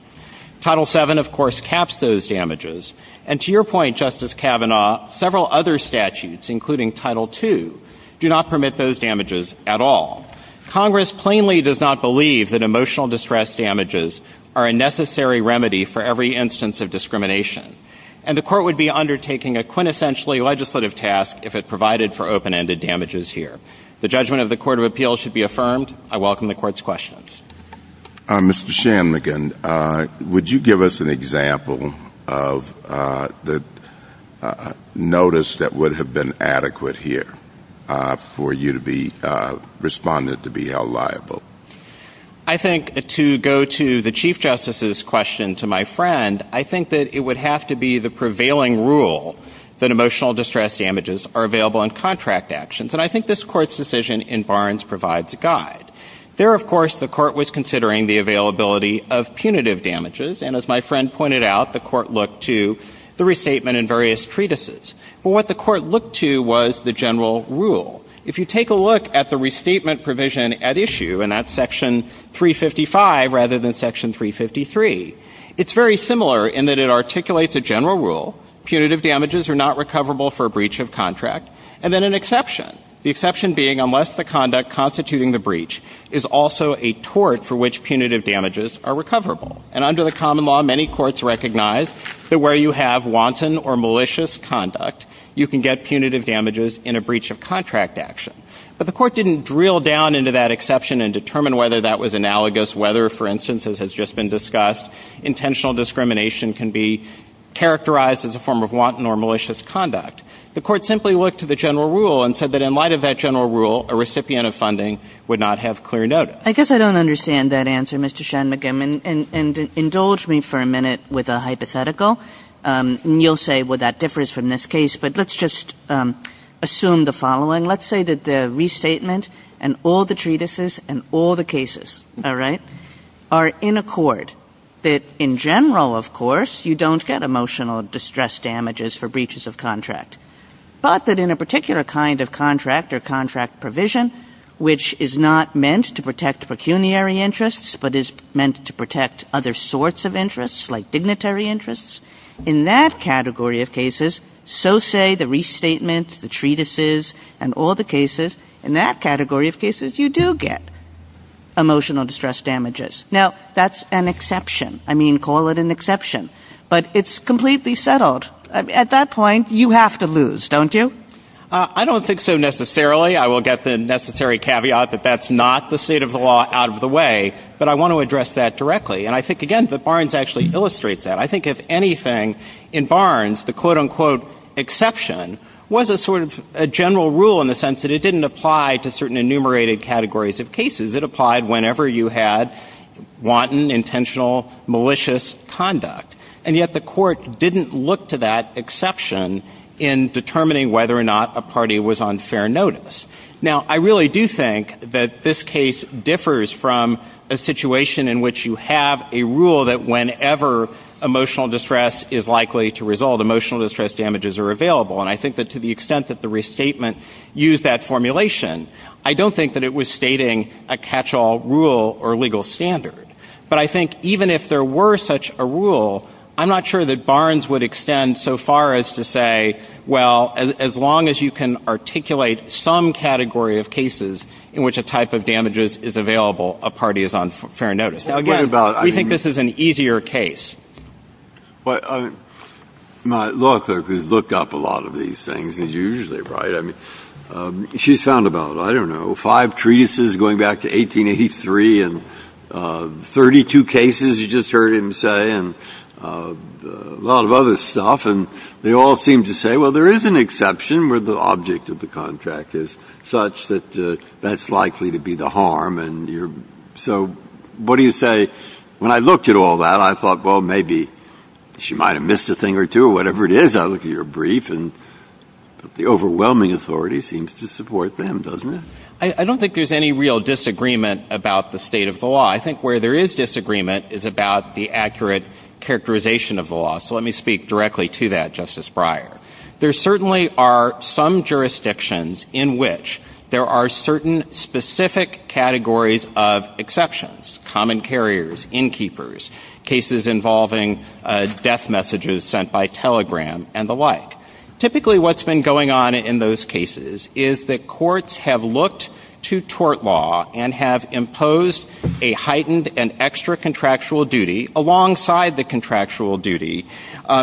Title VII, of course, caps those damages. And to your point, Justice Kavanaugh, several other statutes, including Title II, do not permit those damages at all. Congress plainly does not believe that emotional distress damages are a necessary remedy for every instance of discrimination, and the Court would be undertaking a quintessentially legislative task if it provided for open-ended damages here. The judgment of the Court of Appeals should be affirmed. I welcome the Court's questions. Mr. Shanmugam, would you give us an example of the notice that would have been adequate here for you to be responded to be held liable? I think to go to the Chief Justice's question to my friend, I think that it would have to be the prevailing rule that emotional distress damages are available in contract actions, and I think this Court's decision in Barnes provides a guide. There, of course, the Court was considering the availability of punitive damages, and as my friend pointed out, the Court looked to the restatement in various treatises. What the Court looked to was the general rule. If you take a look at the restatement provision at issue, and that's Section 355 rather than Section 353, it's very similar in that it articulates a general rule, punitive damages are not recoverable for a breach of contract, and then an exception, the exception being unless the conduct constituting the breach is also a tort for which punitive damages are recoverable. And under the common law, many courts recognize that where you have wanton or malicious conduct, you can get punitive damages in a breach of contract action. But the Court didn't drill down into that exception and determine whether that was analogous, whether, for instance, as has just been discussed, intentional discrimination can be characterized as a form of wanton or malicious conduct. The Court simply looked to the general rule and said that in light of that general rule, a recipient of funding would not have clear notice. I guess I don't understand that answer, Mr. Shanmugam, and indulge me for a minute with a hypothetical, and you'll say, well, that differs from this case, but let's just assume the following. Let's say that the restatement and all the treatises and all the cases are in accord, that in general, of course, you don't get emotional distress damages for breaches of contract, but that in a particular kind of contract or contract provision, which is not meant to protect pecuniary interests, but is meant to protect other sorts of interests like dignitary interests, in that category of cases, so say the restatement, the treatises, and all the cases, in that category of cases, you do get emotional distress damages. Now, that's an exception. I mean, call it an exception, but it's completely settled. At that point, you have to lose, don't you? I don't think so necessarily. I will get the necessary caveat that that's not the state of the law out of the way, but I want to address that directly, and I think, again, that Barnes actually illustrates that. I think, if anything, in Barnes, the quote-unquote exception was a sort of general rule in the sense that it didn't apply to certain enumerated categories of cases. It applied whenever you had wanton, intentional, malicious conduct, and yet the court didn't look to that exception in determining whether or not a party was on fair notice. Now, I really do think that this case differs from a situation in which you have a rule that whenever emotional distress is likely to result, emotional distress damages are available, and I think that to the extent that the restatement used that formulation, I don't think that it was stating a catch-all rule or legal standard. But I think even if there were such a rule, I'm not sure that Barnes would extend so far as to say, well, as long as you can articulate some category of cases in which a type of damage is available, a party is on fair notice. We think this is an easier case. My law clerk has looked up a lot of these things, and he's usually right. She's found about, I don't know, five treases going back to 1883 and 32 cases, you just heard him say, and a lot of other stuff, and they all seem to say, well, there is an exception where the object of the contract is such that that's likely to be the harm. So what do you say? When I looked at all that, I thought, well, maybe she might have missed a thing or two, whatever it is out of your brief, and the overwhelming authority seems to support them, doesn't it? I don't think there's any real disagreement about the state of the law. I think where there is disagreement is about the accurate characterization of the law, so let me speak directly to that, Justice Breyer. There certainly are some jurisdictions in which there are certain specific categories of exceptions, common carriers, innkeepers, cases involving death messages sent by telegram and the like. Typically what's been going on in those cases is that courts have looked to tort law and have imposed a heightened and extra contractual duty alongside the contractual duty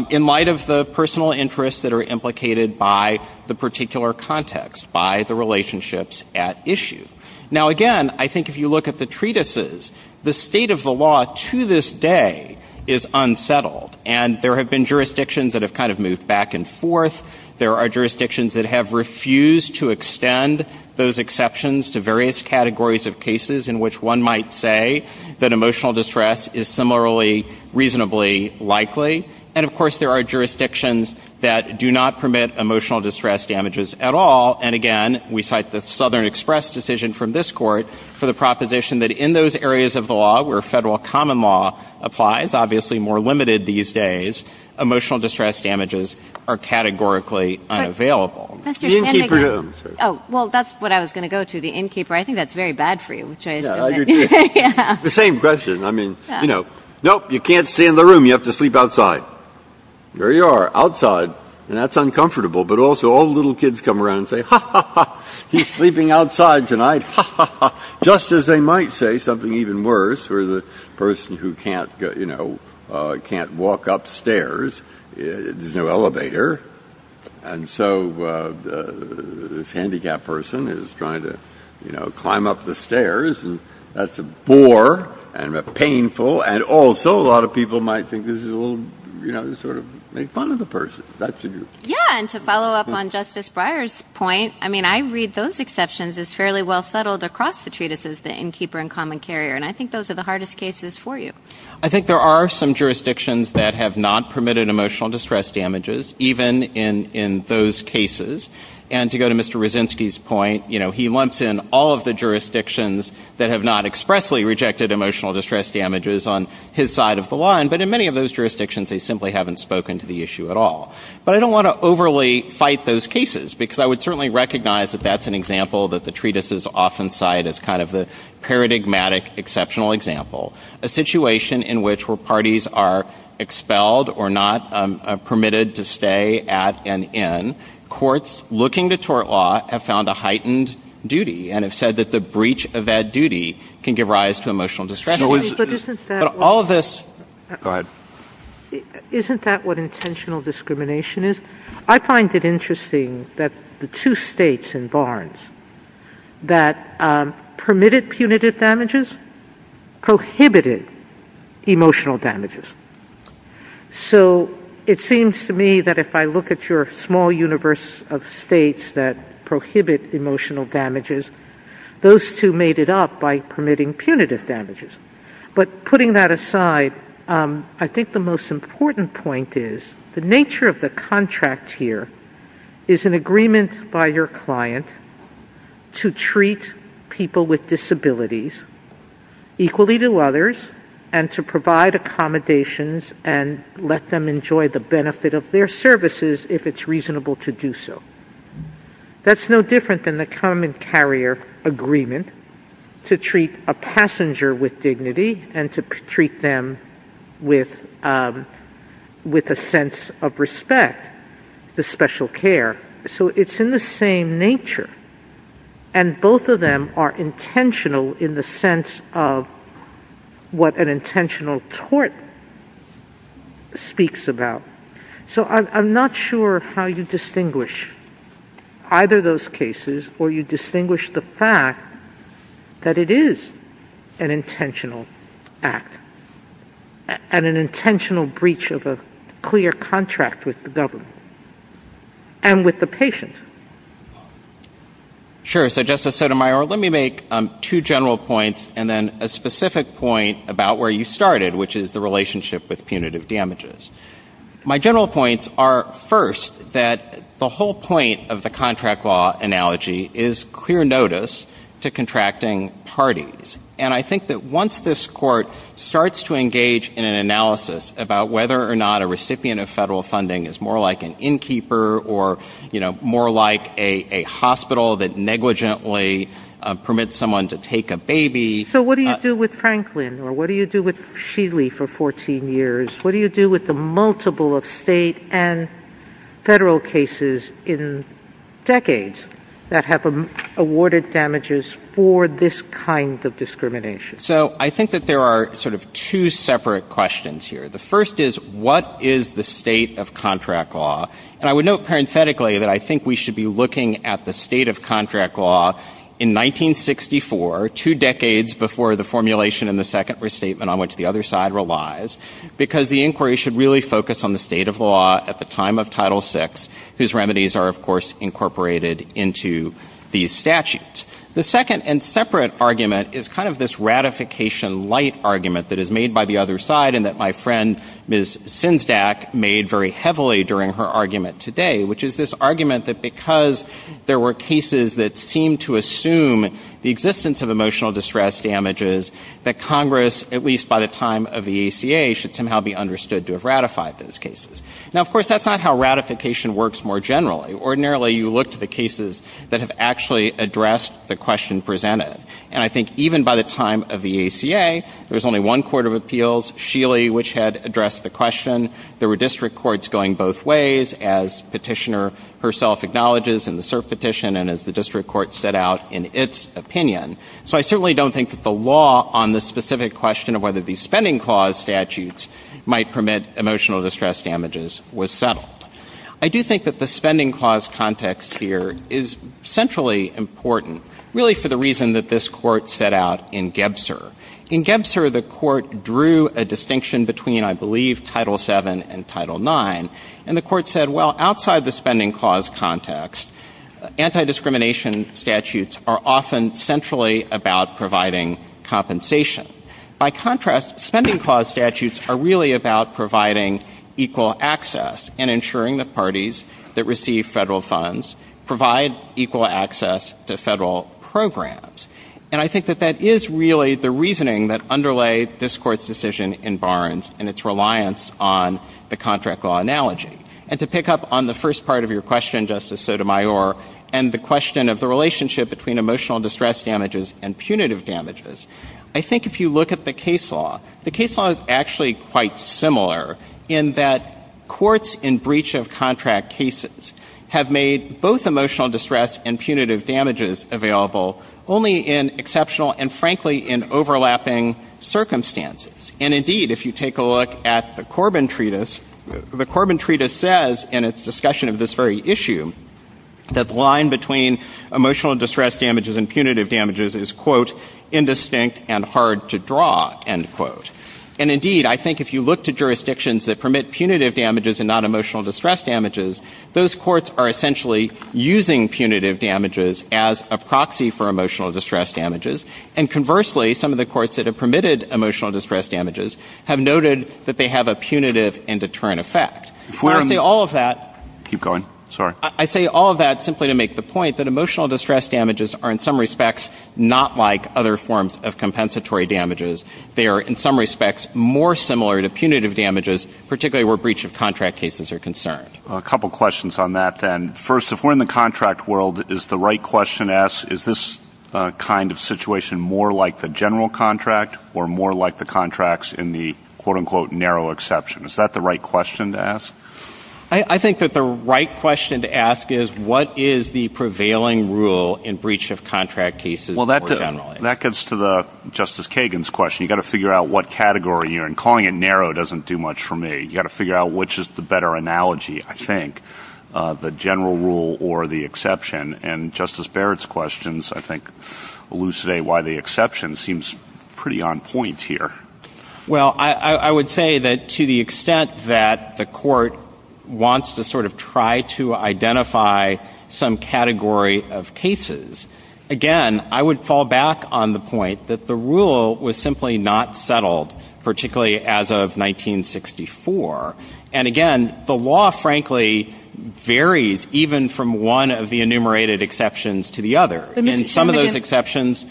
in light of the personal interests that are implicated by the particular context, by the relationships at issue. Now, again, I think if you look at the treatises, the state of the law to this day is unsettled, and there have been jurisdictions that have kind of moved back and forth. There are jurisdictions that have refused to extend those exceptions to various categories of cases in which one might say that emotional distress is similarly reasonably likely, and, of course, there are jurisdictions that do not permit emotional distress damages at all, and, again, we cite the Southern Express decision from this court for the proposition that in those areas of the law where federal common law applies, obviously more limited these days, emotional distress damages are categorically unavailable. Oh, well, that's what I was going to go to, the innkeeper. I think that's very bad for you. The same question. I mean, you know, no, you can't stay in the room. You have to sleep outside. There you are, outside, and that's uncomfortable, but also all the little kids come around and say, ha, ha, ha, he's sleeping outside tonight, ha, ha, ha, just as they might say something even worse where the person who can't, you know, can't walk upstairs, there's no elevator, and so this handicapped person is trying to, you know, climb up the stairs, and that's a bore and painful, and also a lot of people might think this is a little, you know, sort of make fun of the person. Yeah, and to follow up on Justice Breyer's point, I mean, I read those exceptions as fairly well settled across the treatises, the innkeeper and common carrier, and I think those are the hardest cases for you. I think there are some jurisdictions that have not permitted emotional distress damages, even in those cases, and to go to Mr. Rozinski's point, you know, he lumps in all of the jurisdictions that have not expressly rejected emotional distress damages on his side of the line, but in many of those jurisdictions, they simply haven't spoken to the issue at all, but I don't want to overly fight those cases because I would certainly recognize that that's an example that the treatises often cite as kind of a paradigmatic exceptional example, a situation in which where parties are expelled or not permitted to stay at an inn, courts looking to tort law have found a heightened duty and have said that the breach of that duty can give rise to emotional distress. Isn't that what intentional discrimination is? I find it interesting that the two states in Barnes that permitted punitive damages prohibited emotional damages. So it seems to me that if I look at your small universe of states that prohibit emotional damages, those two made it up by permitting punitive damages, but putting that aside, I think the most important point is the nature of the contract here is an agreement by your client to treat people with disabilities equally to others and to provide accommodations and let them enjoy the benefit of their services if it's reasonable to do so. That's no different than the common carrier agreement to treat a passenger with dignity and to treat them with a sense of respect, the special care, so it's in the same nature and both of them are intentional in the sense of what an intentional tort speaks about. So I'm not sure how you distinguish either those cases or you distinguish the fact that it is an intentional act and an intentional breach of a clear contract with the government and with the patient. Sure, so Justice Sotomayor, let me make two general points and then a specific point about where you started, which is the relationship with punitive damages. My general points are first that the whole point of the contract law analogy is clear notice to contracting parties and I think that once this court starts to engage in an analysis about whether or not a recipient of federal funding is more like an innkeeper or more like a hospital that negligently permits someone to take a baby. So what do you do with Franklin or what do you do with Sheely for 14 years? What do you do with the multiple of state and federal cases in decades that have awarded damages for this kind of discrimination? So I think that there are sort of two separate questions here. The first is what is the state of contract law? And I would note parenthetically that I think we should be looking at the state of contract law in 1964, two decades before the formulation and the second restatement on which the other side relies, because the inquiry should really focus on the state of law at the time of Title VI, whose remedies are of course incorporated into these statutes. The second and separate argument is kind of this ratification light argument that is made by the other side and that my friend Ms. Sinsdack made very heavily during her argument today, which is this argument that because there were cases that seemed to assume the existence of emotional distress damages, that Congress, at least by the time of the EACA, should somehow be understood to have ratified those cases. Now of course that's not how ratification works more generally. Ordinarily you look to the cases that have actually addressed the question presented. And I think even by the time of the EACA, there was only one court of appeals, Sheely, which had addressed the question. There were district courts going both ways, as petitioner herself acknowledges in the cert petition and as the district court set out in its opinion. So I certainly don't think that the law on the specific question of whether these spending clause statutes might permit emotional distress damages was settled. I do think that the spending clause context here is centrally important, really for the reason that this court set out in Gebser. In Gebser, the court drew a distinction between, I believe, Title VII and Title IX. And the court said, well, outside the spending clause context, anti-discrimination statutes are often centrally about providing compensation. By contrast, spending clause statutes are really about providing equal access and ensuring that parties that receive federal funds provide equal access to federal programs. And I think that that is really the reasoning that underlay this court's decision in Barnes and its reliance on the contract law analogy. And to pick up on the first part of your question, Justice Sotomayor, and the question of the relationship between emotional distress damages and punitive damages, I think if you look at the case law, the case law is actually quite similar in that courts in breach of contract cases have made both emotional distress and punitive damages available only in exceptional and, frankly, in overlapping circumstances. And indeed, if you take a look at the Corbin Treatise, the Corbin Treatise says in its discussion of this very issue that the line between emotional distress damages and punitive damages is, quote, indistinct and hard to draw, end quote. And indeed, I think if you look to jurisdictions that permit punitive damages and not emotional distress damages, those courts are essentially using punitive damages as a proxy for emotional distress damages. And conversely, some of the courts that have permitted emotional distress damages have noted that they have a punitive and deterrent effect. I say all of that simply to make the point that emotional distress damages are, in some respects, not like other forms of compensatory damages. They are, in some respects, more similar to punitive damages, particularly where breach of contract cases are concerned. A couple of questions on that then. First, if we're in the contract world, is the right question to ask, is this kind of situation more like the general contract or more like the contracts in the, quote, unquote, narrow exception? Is that the right question to ask? I think that the right question to ask is, what is the prevailing rule in breach of contract cases more generally? Well, that gets to Justice Kagan's question. You've got to figure out what category you're in. Calling it narrow doesn't do much for me. You've got to figure out which is the better analogy, I think, the general rule or the exception. And Justice Barrett's questions, I think, elucidate why the exception seems pretty on point here. Well, I would say that to the extent that the court wants to sort of try to identify some category of cases, again, I would fall back on the point that the rule was simply not settled, particularly as of 1964. And again, the law, frankly, varies even from one of the enumerated exceptions to the other. In some of those exceptions,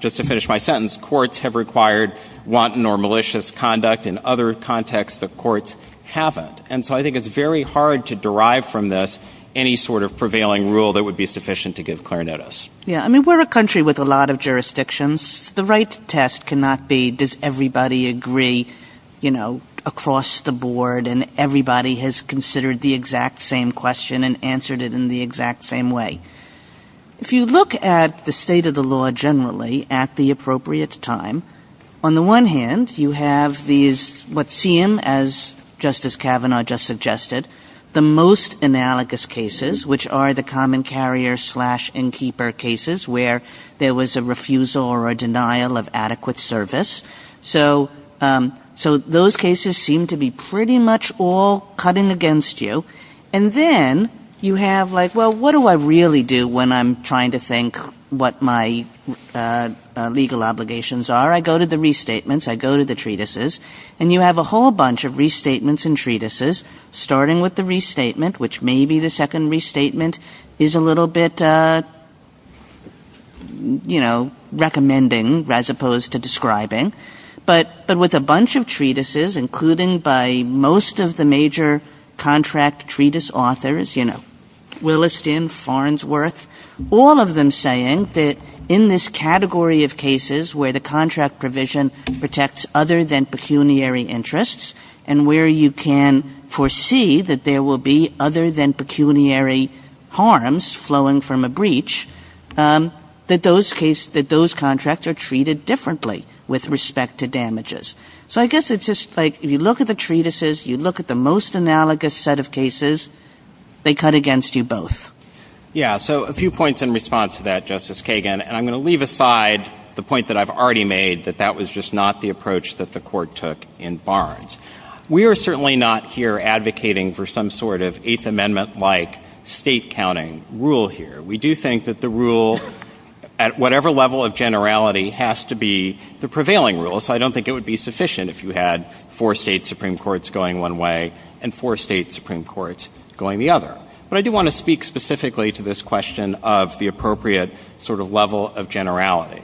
just to finish my sentence, courts have required wanton or malicious conduct in other contexts that courts haven't. And so I think it's very hard to derive from this any sort of prevailing rule that would be sufficient to give clarinetists. Yeah, I mean, we're a country with a lot of jurisdictions. The right test cannot be does everybody agree, you know, across the board, and everybody has considered the exact same question and answered it in the exact same way. If you look at the state of the law generally at the appropriate time, on the one hand, you have these what seem, as Justice Kavanaugh just suggested, the most analogous cases, which are the common carrier slash innkeeper cases where there was a refusal or a denial of adequate service. So those cases seem to be pretty much all cutting against you. And then you have like, well, what do I really do when I'm trying to think what my legal obligations are? I go to the restatements. I go to the treatises. And you have a whole bunch of restatements and treatises, starting with the restatement, which maybe the second restatement is a little bit, you know, recommending as opposed to describing. But with a bunch of treatises, including by most of the major contract treatise authors, you know, Williston, Farnsworth, all of them saying that in this category of cases where the contract provision protects other than pecuniary interests and where you can foresee that there will be other than pecuniary harms flowing from a breach, that those contracts are treated differently with respect to damages. So I guess it's just like if you look at the treatises, you look at the most analogous set of cases, they cut against you both. Yeah, so a few points in response to that, Justice Kagan. And I'm going to leave aside the point that I've already made, that that was just not the approach that the court took in Barnes. We are certainly not here advocating for some sort of Eighth Amendment-like state-counting rule here. We do think that the rule, at whatever level of generality, has to be the prevailing rule. So I don't think it would be sufficient if you had four state Supreme Courts going one way and four state Supreme Courts going the other. But I do want to speak specifically to this question of the appropriate sort of level of generality.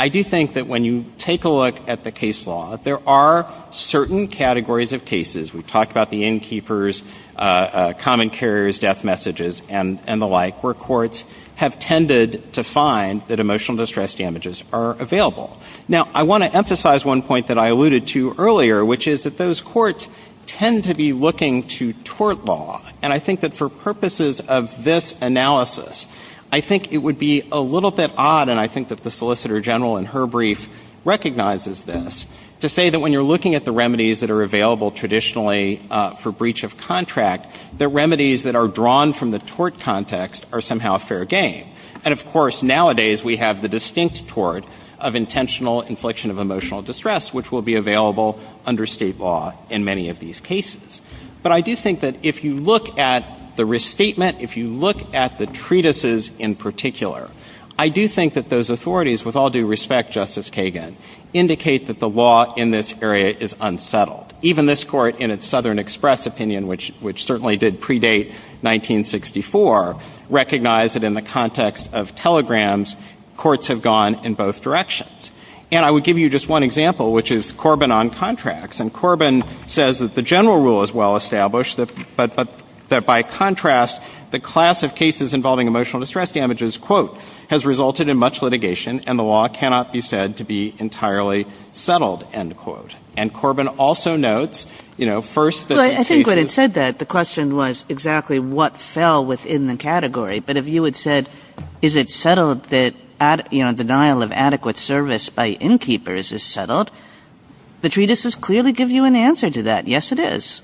I do think that when you take a look at the case law, there are certain categories of cases. We've talked about the innkeepers, common carriers, death messages, and the like, where courts have tended to find that emotional distress damages are available. Now, I want to emphasize one point that I alluded to earlier, which is that those courts tend to be looking to tort law. And I think that for purposes of this analysis, I think it would be a little bit odd, and I think that the Solicitor General in her brief recognizes this, to say that when you're looking at the remedies that are available traditionally for breach of contract, the remedies that are drawn from the tort context are somehow fair game. And, of course, nowadays we have the distinct tort of intentional infliction of emotional distress, which will be available under state law in many of these cases. But I do think that if you look at the restatement, if you look at the treatises in particular, I do think that those authorities, with all due respect, Justice Kagan, indicate that the law in this area is unsettled. Even this court in its Southern Express opinion, which certainly did predate 1964, recognized that in the context of telegrams, courts have gone in both directions. And I would give you just one example, which is Corbin on contracts. And Corbin says that the general rule is well established, but that by contrast, the class of cases involving emotional distress damages, quote, has resulted in much litigation, and the law cannot be said to be entirely settled, end quote. And Corbin also notes, you know, first the- Well, I think when it said that, the question was exactly what fell within the category. But if you had said, is it settled that, you know, denial of adequate service by innkeepers is settled, the treatises clearly give you an answer to that. Yes, it is.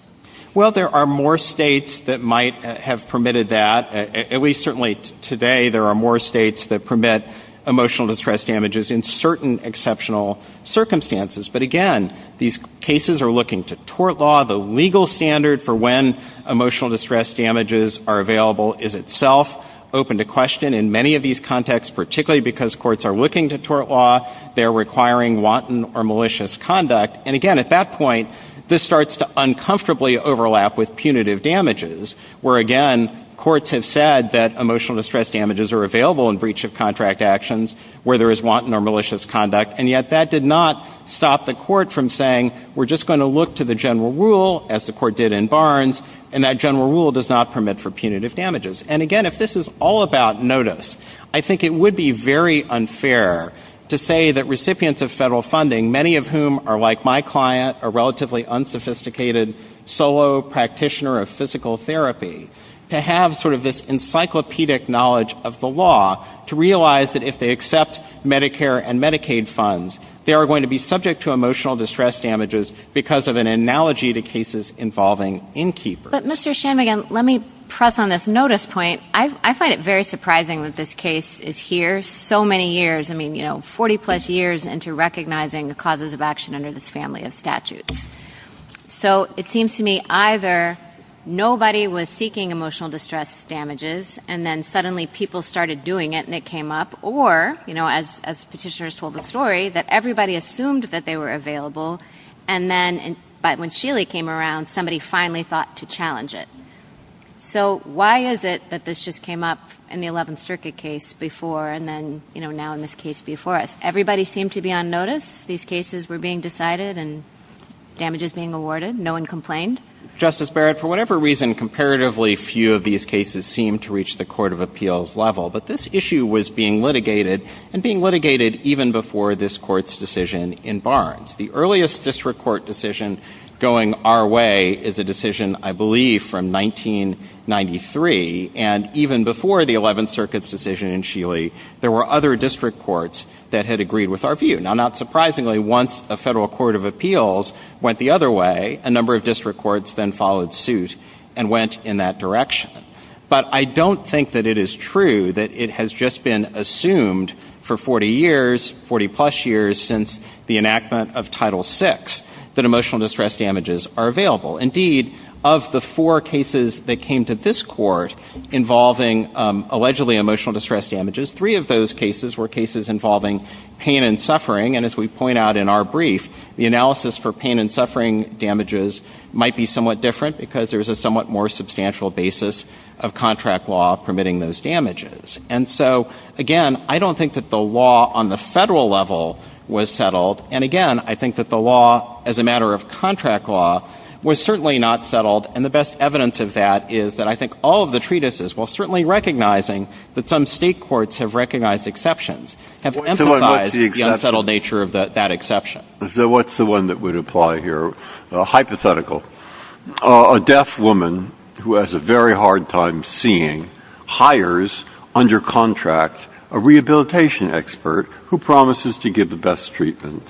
Well, there are more states that might have permitted that. At least certainly today, there are more states that permit emotional distress damages in certain exceptional circumstances. But again, these cases are looking to tort law. The legal standard for when emotional distress damages are available is itself open to question. In many of these contexts, particularly because courts are looking to tort law, they're requiring wanton or malicious conduct. And again, at that point, this starts to uncomfortably overlap with punitive damages, where again, courts have said that emotional distress damages are available in breach of contract actions where there is wanton or malicious conduct. And yet, that did not stop the court from saying, we're just going to look to the general rule, as the court did in Barnes, and that general rule does not permit for punitive damages. And again, if this is all about notice, I think it would be very unfair to say that recipients of federal funding, many of whom are like my client, a relatively unsophisticated solo practitioner of physical therapy, to have sort of this encyclopedic knowledge of the law to realize that if they accept Medicare and Medicaid funds, they are going to be subject to emotional distress damages because of an analogy to cases involving innkeepers. But Mr. Shanmugam, let me press on this notice point. I find it very surprising that this case is here so many years, I mean, you know, 40-plus years into recognizing the causes of action under this family of statutes. So it seems to me either nobody was seeking emotional distress damages and then suddenly people started doing it and it came up, or, you know, as petitioners told the story, that everybody assumed that they were available, and then when Sheely came around, somebody finally thought to challenge it. So why is it that this just came up in the 11th Circuit case before and then, you know, now in this case before us? Everybody seemed to be on notice. These cases were being decided and damages being awarded. No one complained. Justice Barrett, for whatever reason, comparatively few of these cases seem to reach the court of appeals level, but this issue was being litigated and being litigated even before this court's decision in Barnes. The earliest district court decision going our way is a decision, I believe, from 1993, and even before the 11th Circuit's decision in Sheely, there were other district courts that had agreed with our view. Now, not surprisingly, once a federal court of appeals went the other way, a number of district courts then followed suit and went in that direction. But I don't think that it is true that it has just been assumed for 40 years, 40-plus years, since the enactment of Title VI, that emotional distress damages are available. Indeed, of the four cases that came to this court involving allegedly emotional distress damages, three of those cases were cases involving pain and suffering, and as we point out in our brief, the analysis for pain and suffering damages might be somewhat different because there's a somewhat more substantial basis of contract law permitting those damages. And so, again, I don't think that the law on the federal level was settled, and again, I think that the law as a matter of contract law was certainly not settled, and the best evidence of that is that I think all of the treatises, while certainly recognizing that some state courts have recognized exceptions, have emphasized the unsettled nature of that exception. What's the one that would apply here? A hypothetical. A deaf woman who has a very hard time seeing hires under contract a rehabilitation expert who promises to give the best treatment,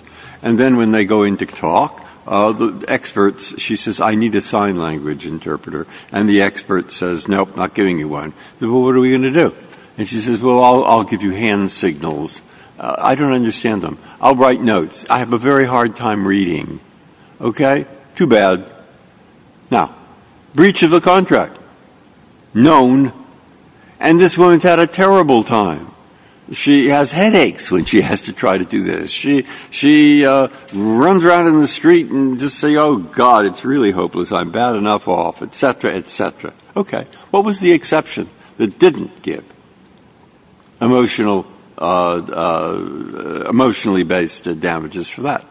and then when they go in to talk, the expert, she says, I need a sign language interpreter, and the expert says, nope, not giving you one. Well, what are we going to do? And she says, well, I'll give you hand signals. I don't understand them. I'll write notes. I have a very hard time reading. Okay? Too bad. Now, breach of a contract. Known. And this woman's had a terrible time. She has headaches when she has to try to do this. She runs around in the street and just says, oh, God, it's really hopeless. I'm bad enough off, et cetera, et cetera. Okay. What was the exception that didn't get emotionally-based damages for that?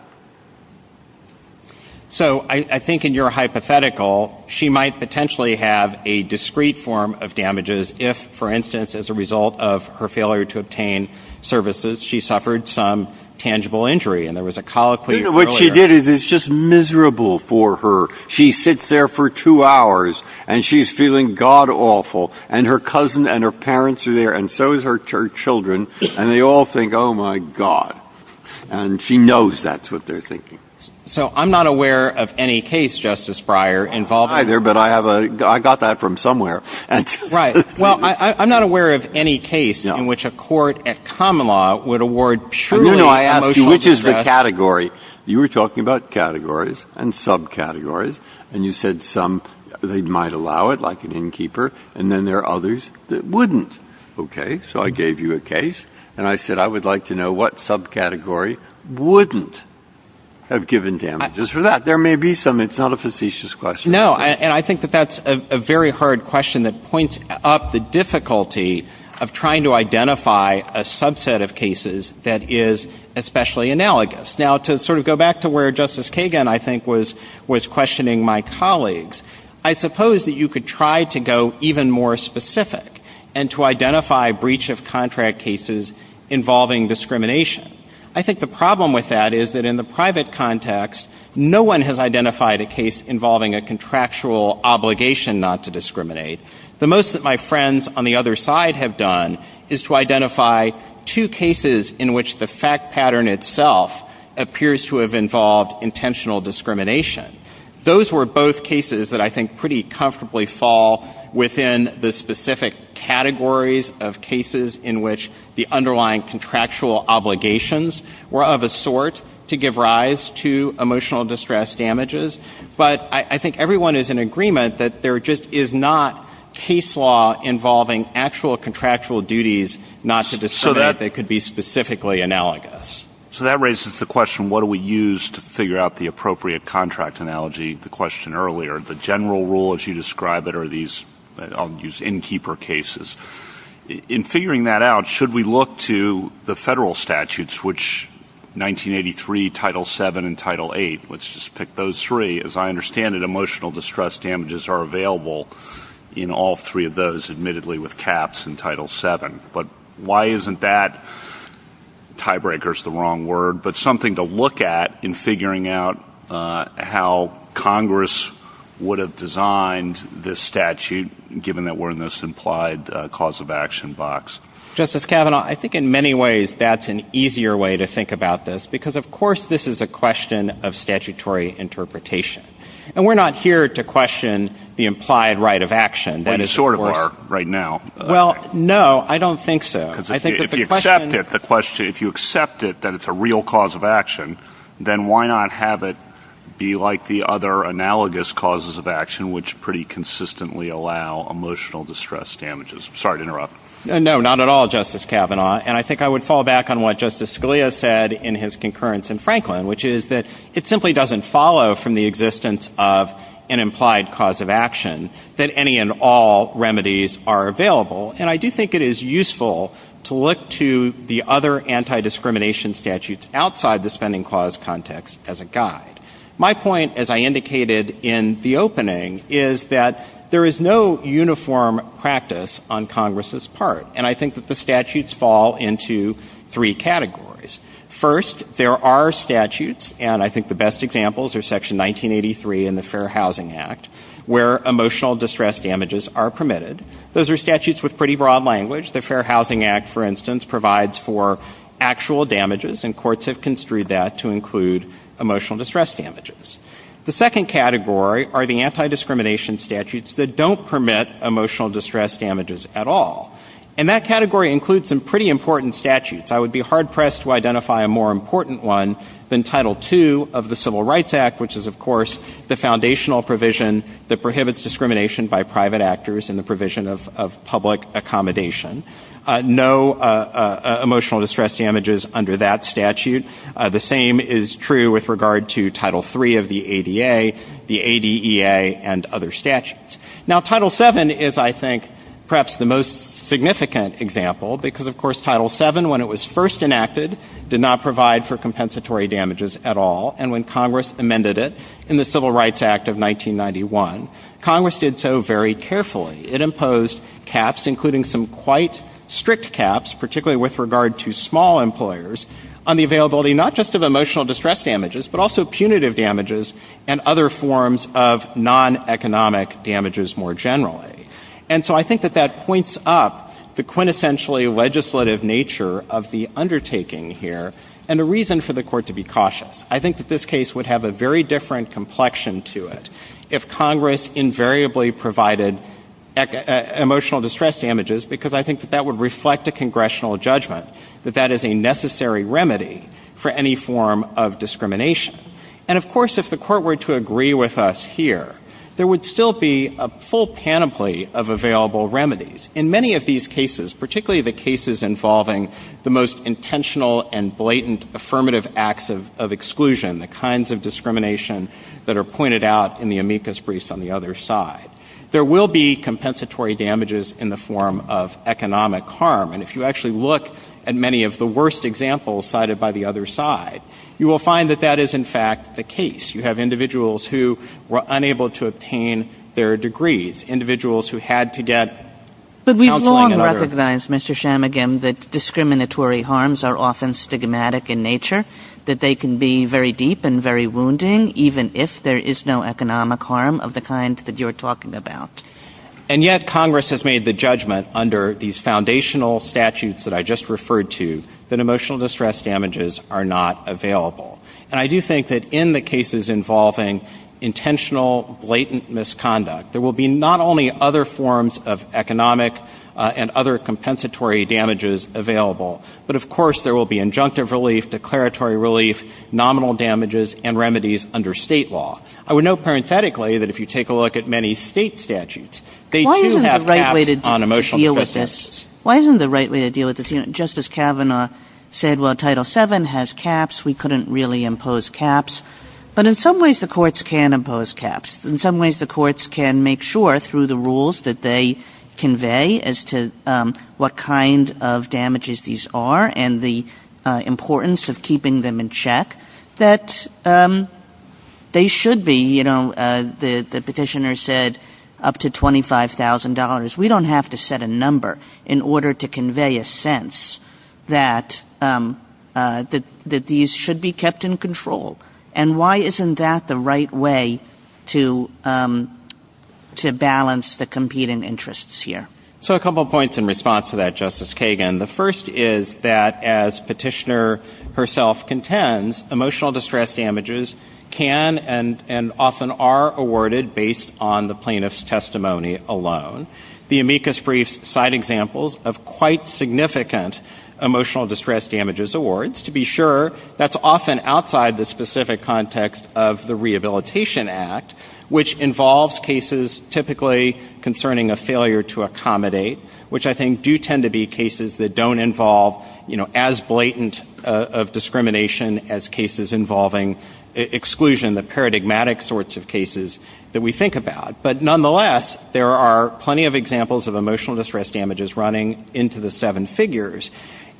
So I think in your hypothetical, she might potentially have a discrete form of damages if, for instance, as a result of her failure to obtain services, she suffered some tangible injury, and there was a colloquy earlier. What she did is just miserable for her. She sits there for two hours, and she's feeling God-awful, and her cousin and her parents are there, and so is her children, and they all think, oh, my God. And she knows that's what they're thinking. So I'm not aware of any case, Justice Breyer, involving... Neither, but I have a... I got that from somewhere. Right. Well, I'm not aware of any case in which a court at common law would award truly emotional... No, no, I asked you which is the category. You were talking about categories and subcategories, and you said some, they might allow it, like an innkeeper, and then there are others that wouldn't. Okay, so I gave you a case, and I said, I would like to know what subcategory wouldn't have given damages for that. There may be some. It's not a facetious question. No, and I think that that's a very hard question that points up the difficulty of trying to identify a subset of cases that is especially analogous. Now, to sort of go back to where Justice Kagan, I think, was questioning my colleagues, I suppose that you could try to go even more specific and to identify breach-of-contract cases involving discrimination. I think the problem with that is that in the private context, no one has identified a case involving a contractual obligation not to discriminate. The most that my friends on the other side have done is to identify two cases in which the fact pattern itself appears to have involved intentional discrimination. Those were both cases that I think pretty comfortably fall within the specific categories of cases in which the underlying contractual obligations were of a sort to give rise to emotional distress damages. But I think everyone is in agreement that there just is not case law involving actual contractual duties not to discriminate that could be specifically analogous. So that raises the question, what do we use to figure out the appropriate contract analogy? The question earlier, the general rule, as you describe it, are these in-keeper cases. In figuring that out, should we look to the federal statutes, which 1983, Title VII, and Title VIII, let's just pick those three. As I understand it, emotional distress damages are available in all three of those, admittedly, with caps in Title VII. But why isn't that, tiebreaker's the wrong word, but something to look at in figuring out how Congress would have designed this statute given that we're in this implied cause-of-action box? Justice Kavanaugh, I think in many ways that's an easier way to think about this because, of course, this is a question of statutory interpretation. And we're not here to question the implied right of action. We sort of are right now. Well, no, I don't think so. Because if you accept it, if you accept it that it's a real cause of action, then why not have it be like the other analogous causes of action which pretty consistently allow emotional distress damages? Sorry to interrupt. No, not at all, Justice Kavanaugh. And I think I would fall back on what Justice Scalia said in his concurrence in Franklin, which is that it simply doesn't follow from the existence of an implied cause of action that any and all remedies are available. And I do think it is useful to look to the other anti-discrimination statutes outside the spending clause context as a guide. My point, as I indicated in the opening, is that there is no uniform practice on Congress's part. And I think that the statutes fall into three categories. First, there are statutes, and I think the best examples are Section 1983 and the Fair Housing Act, where emotional distress damages are permitted. Those are statutes with pretty broad language. The Fair Housing Act, for instance, provides for actual damages, and courts have construed that to include emotional distress damages. The second category are the anti-discrimination statutes that don't permit emotional distress damages at all. And that category includes some pretty important statutes. I would be hard-pressed to identify a more important one than Title II of the Civil Rights Act, which is, of course, the foundational provision that prohibits discrimination by private actors and the provision of public accommodation. No emotional distress damages under that statute. The same is true with regard to Title III of the ADA, the ADEA, and other statutes. Now, Title VII is, I think, perhaps the most significant example because, of course, Title VII, when it was first enacted, did not provide for compensatory damages at all. And when Congress amended it in the Civil Rights Act of 1991, Congress did so very carefully. It imposed caps, including some quite strict caps, particularly with regard to small employers, on the availability not just of emotional distress damages but also punitive damages and other forms of non-economic damages more generally. And so I think that that points up the quintessentially legislative nature of the undertaking here and the reason for the Court to be cautious. I think that this case would have a very different complexion to it if Congress invariably provided emotional distress damages because I think that that would reflect a congressional judgment that that is a necessary remedy for any form of discrimination. And, of course, if the Court were to agree with us here, there would still be a full panoply of available remedies. In many of these cases, particularly the cases involving the most intentional and blatant affirmative acts of exclusion, the kinds of discrimination that are pointed out in the amicus briefs on the other side, there will be compensatory damages in the form of economic harm. And if you actually look at many of the worst examples cited by the other side, you will find that that is, in fact, the case. You have individuals who were unable to obtain their degrees, individuals who had to get counseling and other... But we've long recognized, Mr. Shamagam, that discriminatory harms are often stigmatic in nature, that they can be very deep and very wounding even if there is no economic harm of the kind that you're talking about. And yet Congress has made the judgment under these foundational statutes that I just referred to that emotional distress damages are not available. And I do think that in the cases involving intentional, blatant misconduct, there will be not only other forms of economic and other compensatory damages available, but, of course, there will be injunctive relief, declaratory relief, nominal damages, and remedies under state law. I would note parenthetically that if you take a look at many state statutes, they do have caps on emotional distress. Why isn't the right way to deal with this? Justice Kavanaugh said, well, Title VII has caps. We couldn't really impose caps. But in some ways, the courts can impose caps. In some ways, the courts can make sure through the rules that they convey as to what kind of damages these are and the importance of keeping them in check that they should be, you know, the petitioner said up to $25,000. We don't have to set a number in order to convey a sense that these should be kept in control. And why isn't that the right way to balance the competing interests here? So a couple of points in response to that, Justice Kagan. The first is that as Petitioner herself contends, emotional distress damages can and often are awarded based on the plaintiff's testimony alone. The amicus briefs cite examples of quite significant emotional distress damages awards. To be sure, that's often outside the specific context of the Rehabilitation Act, which involves cases typically concerning a failure to accommodate, which I think do tend to be cases that don't involve, you know, as blatant of discrimination as cases involving exclusion, the paradigmatic sorts of cases that we think about. But nonetheless, there are plenty of examples of emotional distress damages running into the seven figures.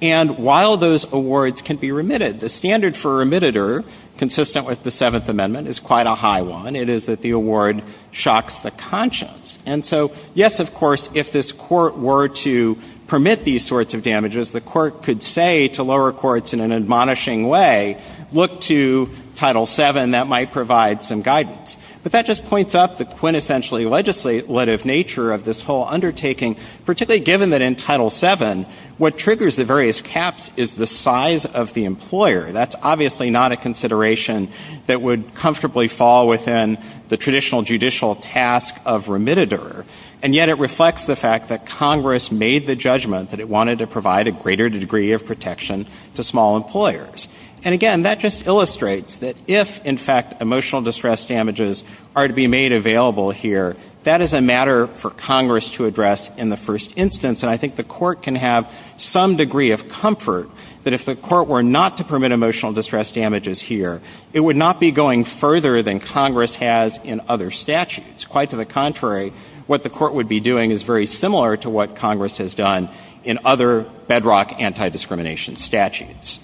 And while those awards can be remitted, the standard for remitted-er, consistent with the Seventh Amendment, is quite a high one. It is that the award shocks the conscience. And so, yes, of course, if this court were to permit these sorts of damages, the court could say to lower courts in an admonishing way, look to Title VII. That might provide some guidance. But that just points up the quintessentially legislative nature of this whole undertaking, particularly given that in Title VII, what triggers the various caps is the size of the employer. That's obviously not a consideration that would comfortably fall within the traditional judicial task of remitted-er. And yet it reflects the fact that Congress made the judgment that it wanted to provide a greater degree of protection to small employers. And again, that just illustrates that if, in fact, emotional distress damages are to be made available here, that is a matter for Congress to address in the first instance. And I think the court can have some degree of comfort that if the court were not to permit emotional distress damages here, it would not be going further than Congress has in other statutes. Quite to the contrary, what the court would be doing is very similar to what Congress has done in other bedrock anti-discrimination statutes.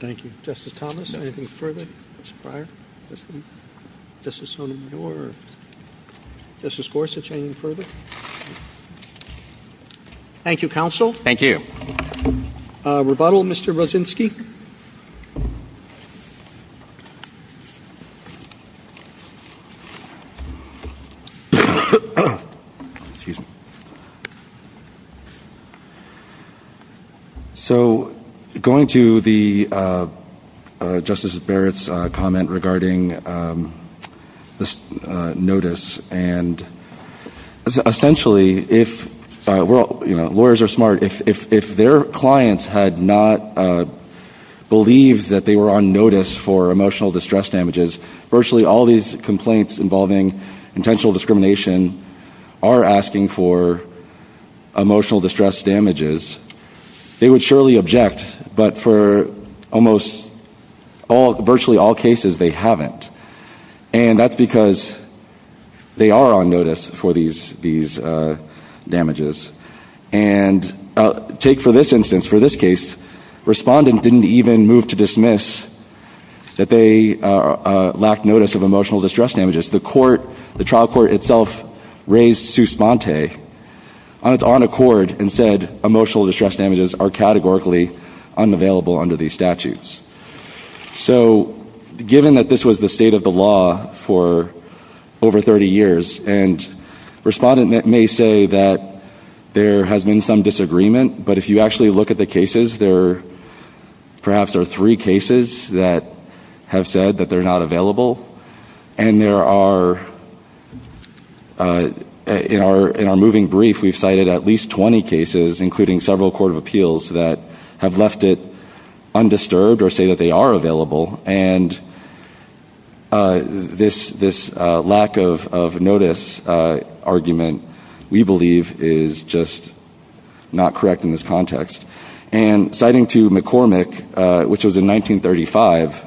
Thank you. Justice Thomas, anything further? This is on the board. Justice Gorsuch, anything further? Thank you, Counsel. Thank you. Rebuttal, Mr. Rosinsky? So, going to the Justice Barrett's comment regarding this notice, and essentially, if lawyers are smart, if their clients had not made the decision that they were going to believe that they were on notice for emotional distress damages, virtually all these complaints involving intentional discrimination are asking for emotional distress damages, they would surely object. But for almost virtually all cases, they haven't. And that's because they are on notice for these damages. And take for this instance, for this case, respondent didn't even move to dismiss that they lacked notice of emotional distress damages. The trial court itself raised Suspante on its own accord and said, emotional distress damages are categorically unavailable under these statutes. So, given that this was the state of the law for over 30 years, and respondent may say that there has been some disagreement, but if you actually look at the cases, there perhaps are three cases that have said that they're not available. And there are, in our moving brief, we've cited at least 20 cases, including several court of appeals that have left it undisturbed or say that they are available. And this lack of notice argument, we believe, is just not correct in this context. And citing to McCormick, which was in 1935,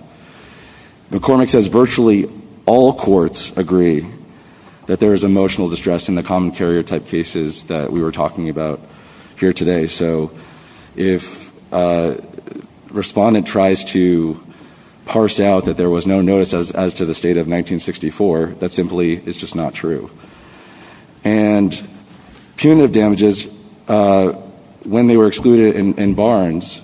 McCormick says virtually all courts agree that there is emotional distress in the common carrier type cases that we were talking about here today. So, if respondent tries to parse out that there was no notice as to the state of 1964, that simply is just not true. And punitive damages, when they were excluded in Barnes,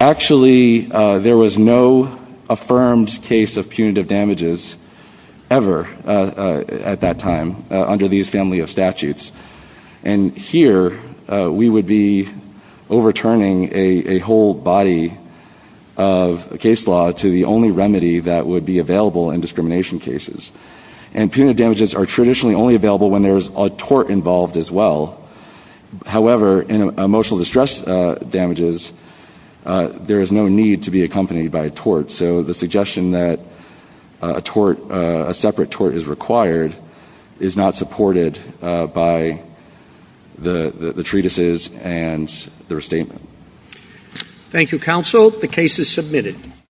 actually there was no affirmed case of punitive damages ever at that time under these family of statutes. And here we would be overturning a whole body of case law to the only remedy that would be available in discrimination cases. And punitive damages are traditionally only available when there is a tort involved as well. However, in emotional distress damages, there is no need to be accompanied by a tort. So, the suggestion that a separate tort is required is not supported by the treatises and the restatement. Thank you, counsel. The case is submitted.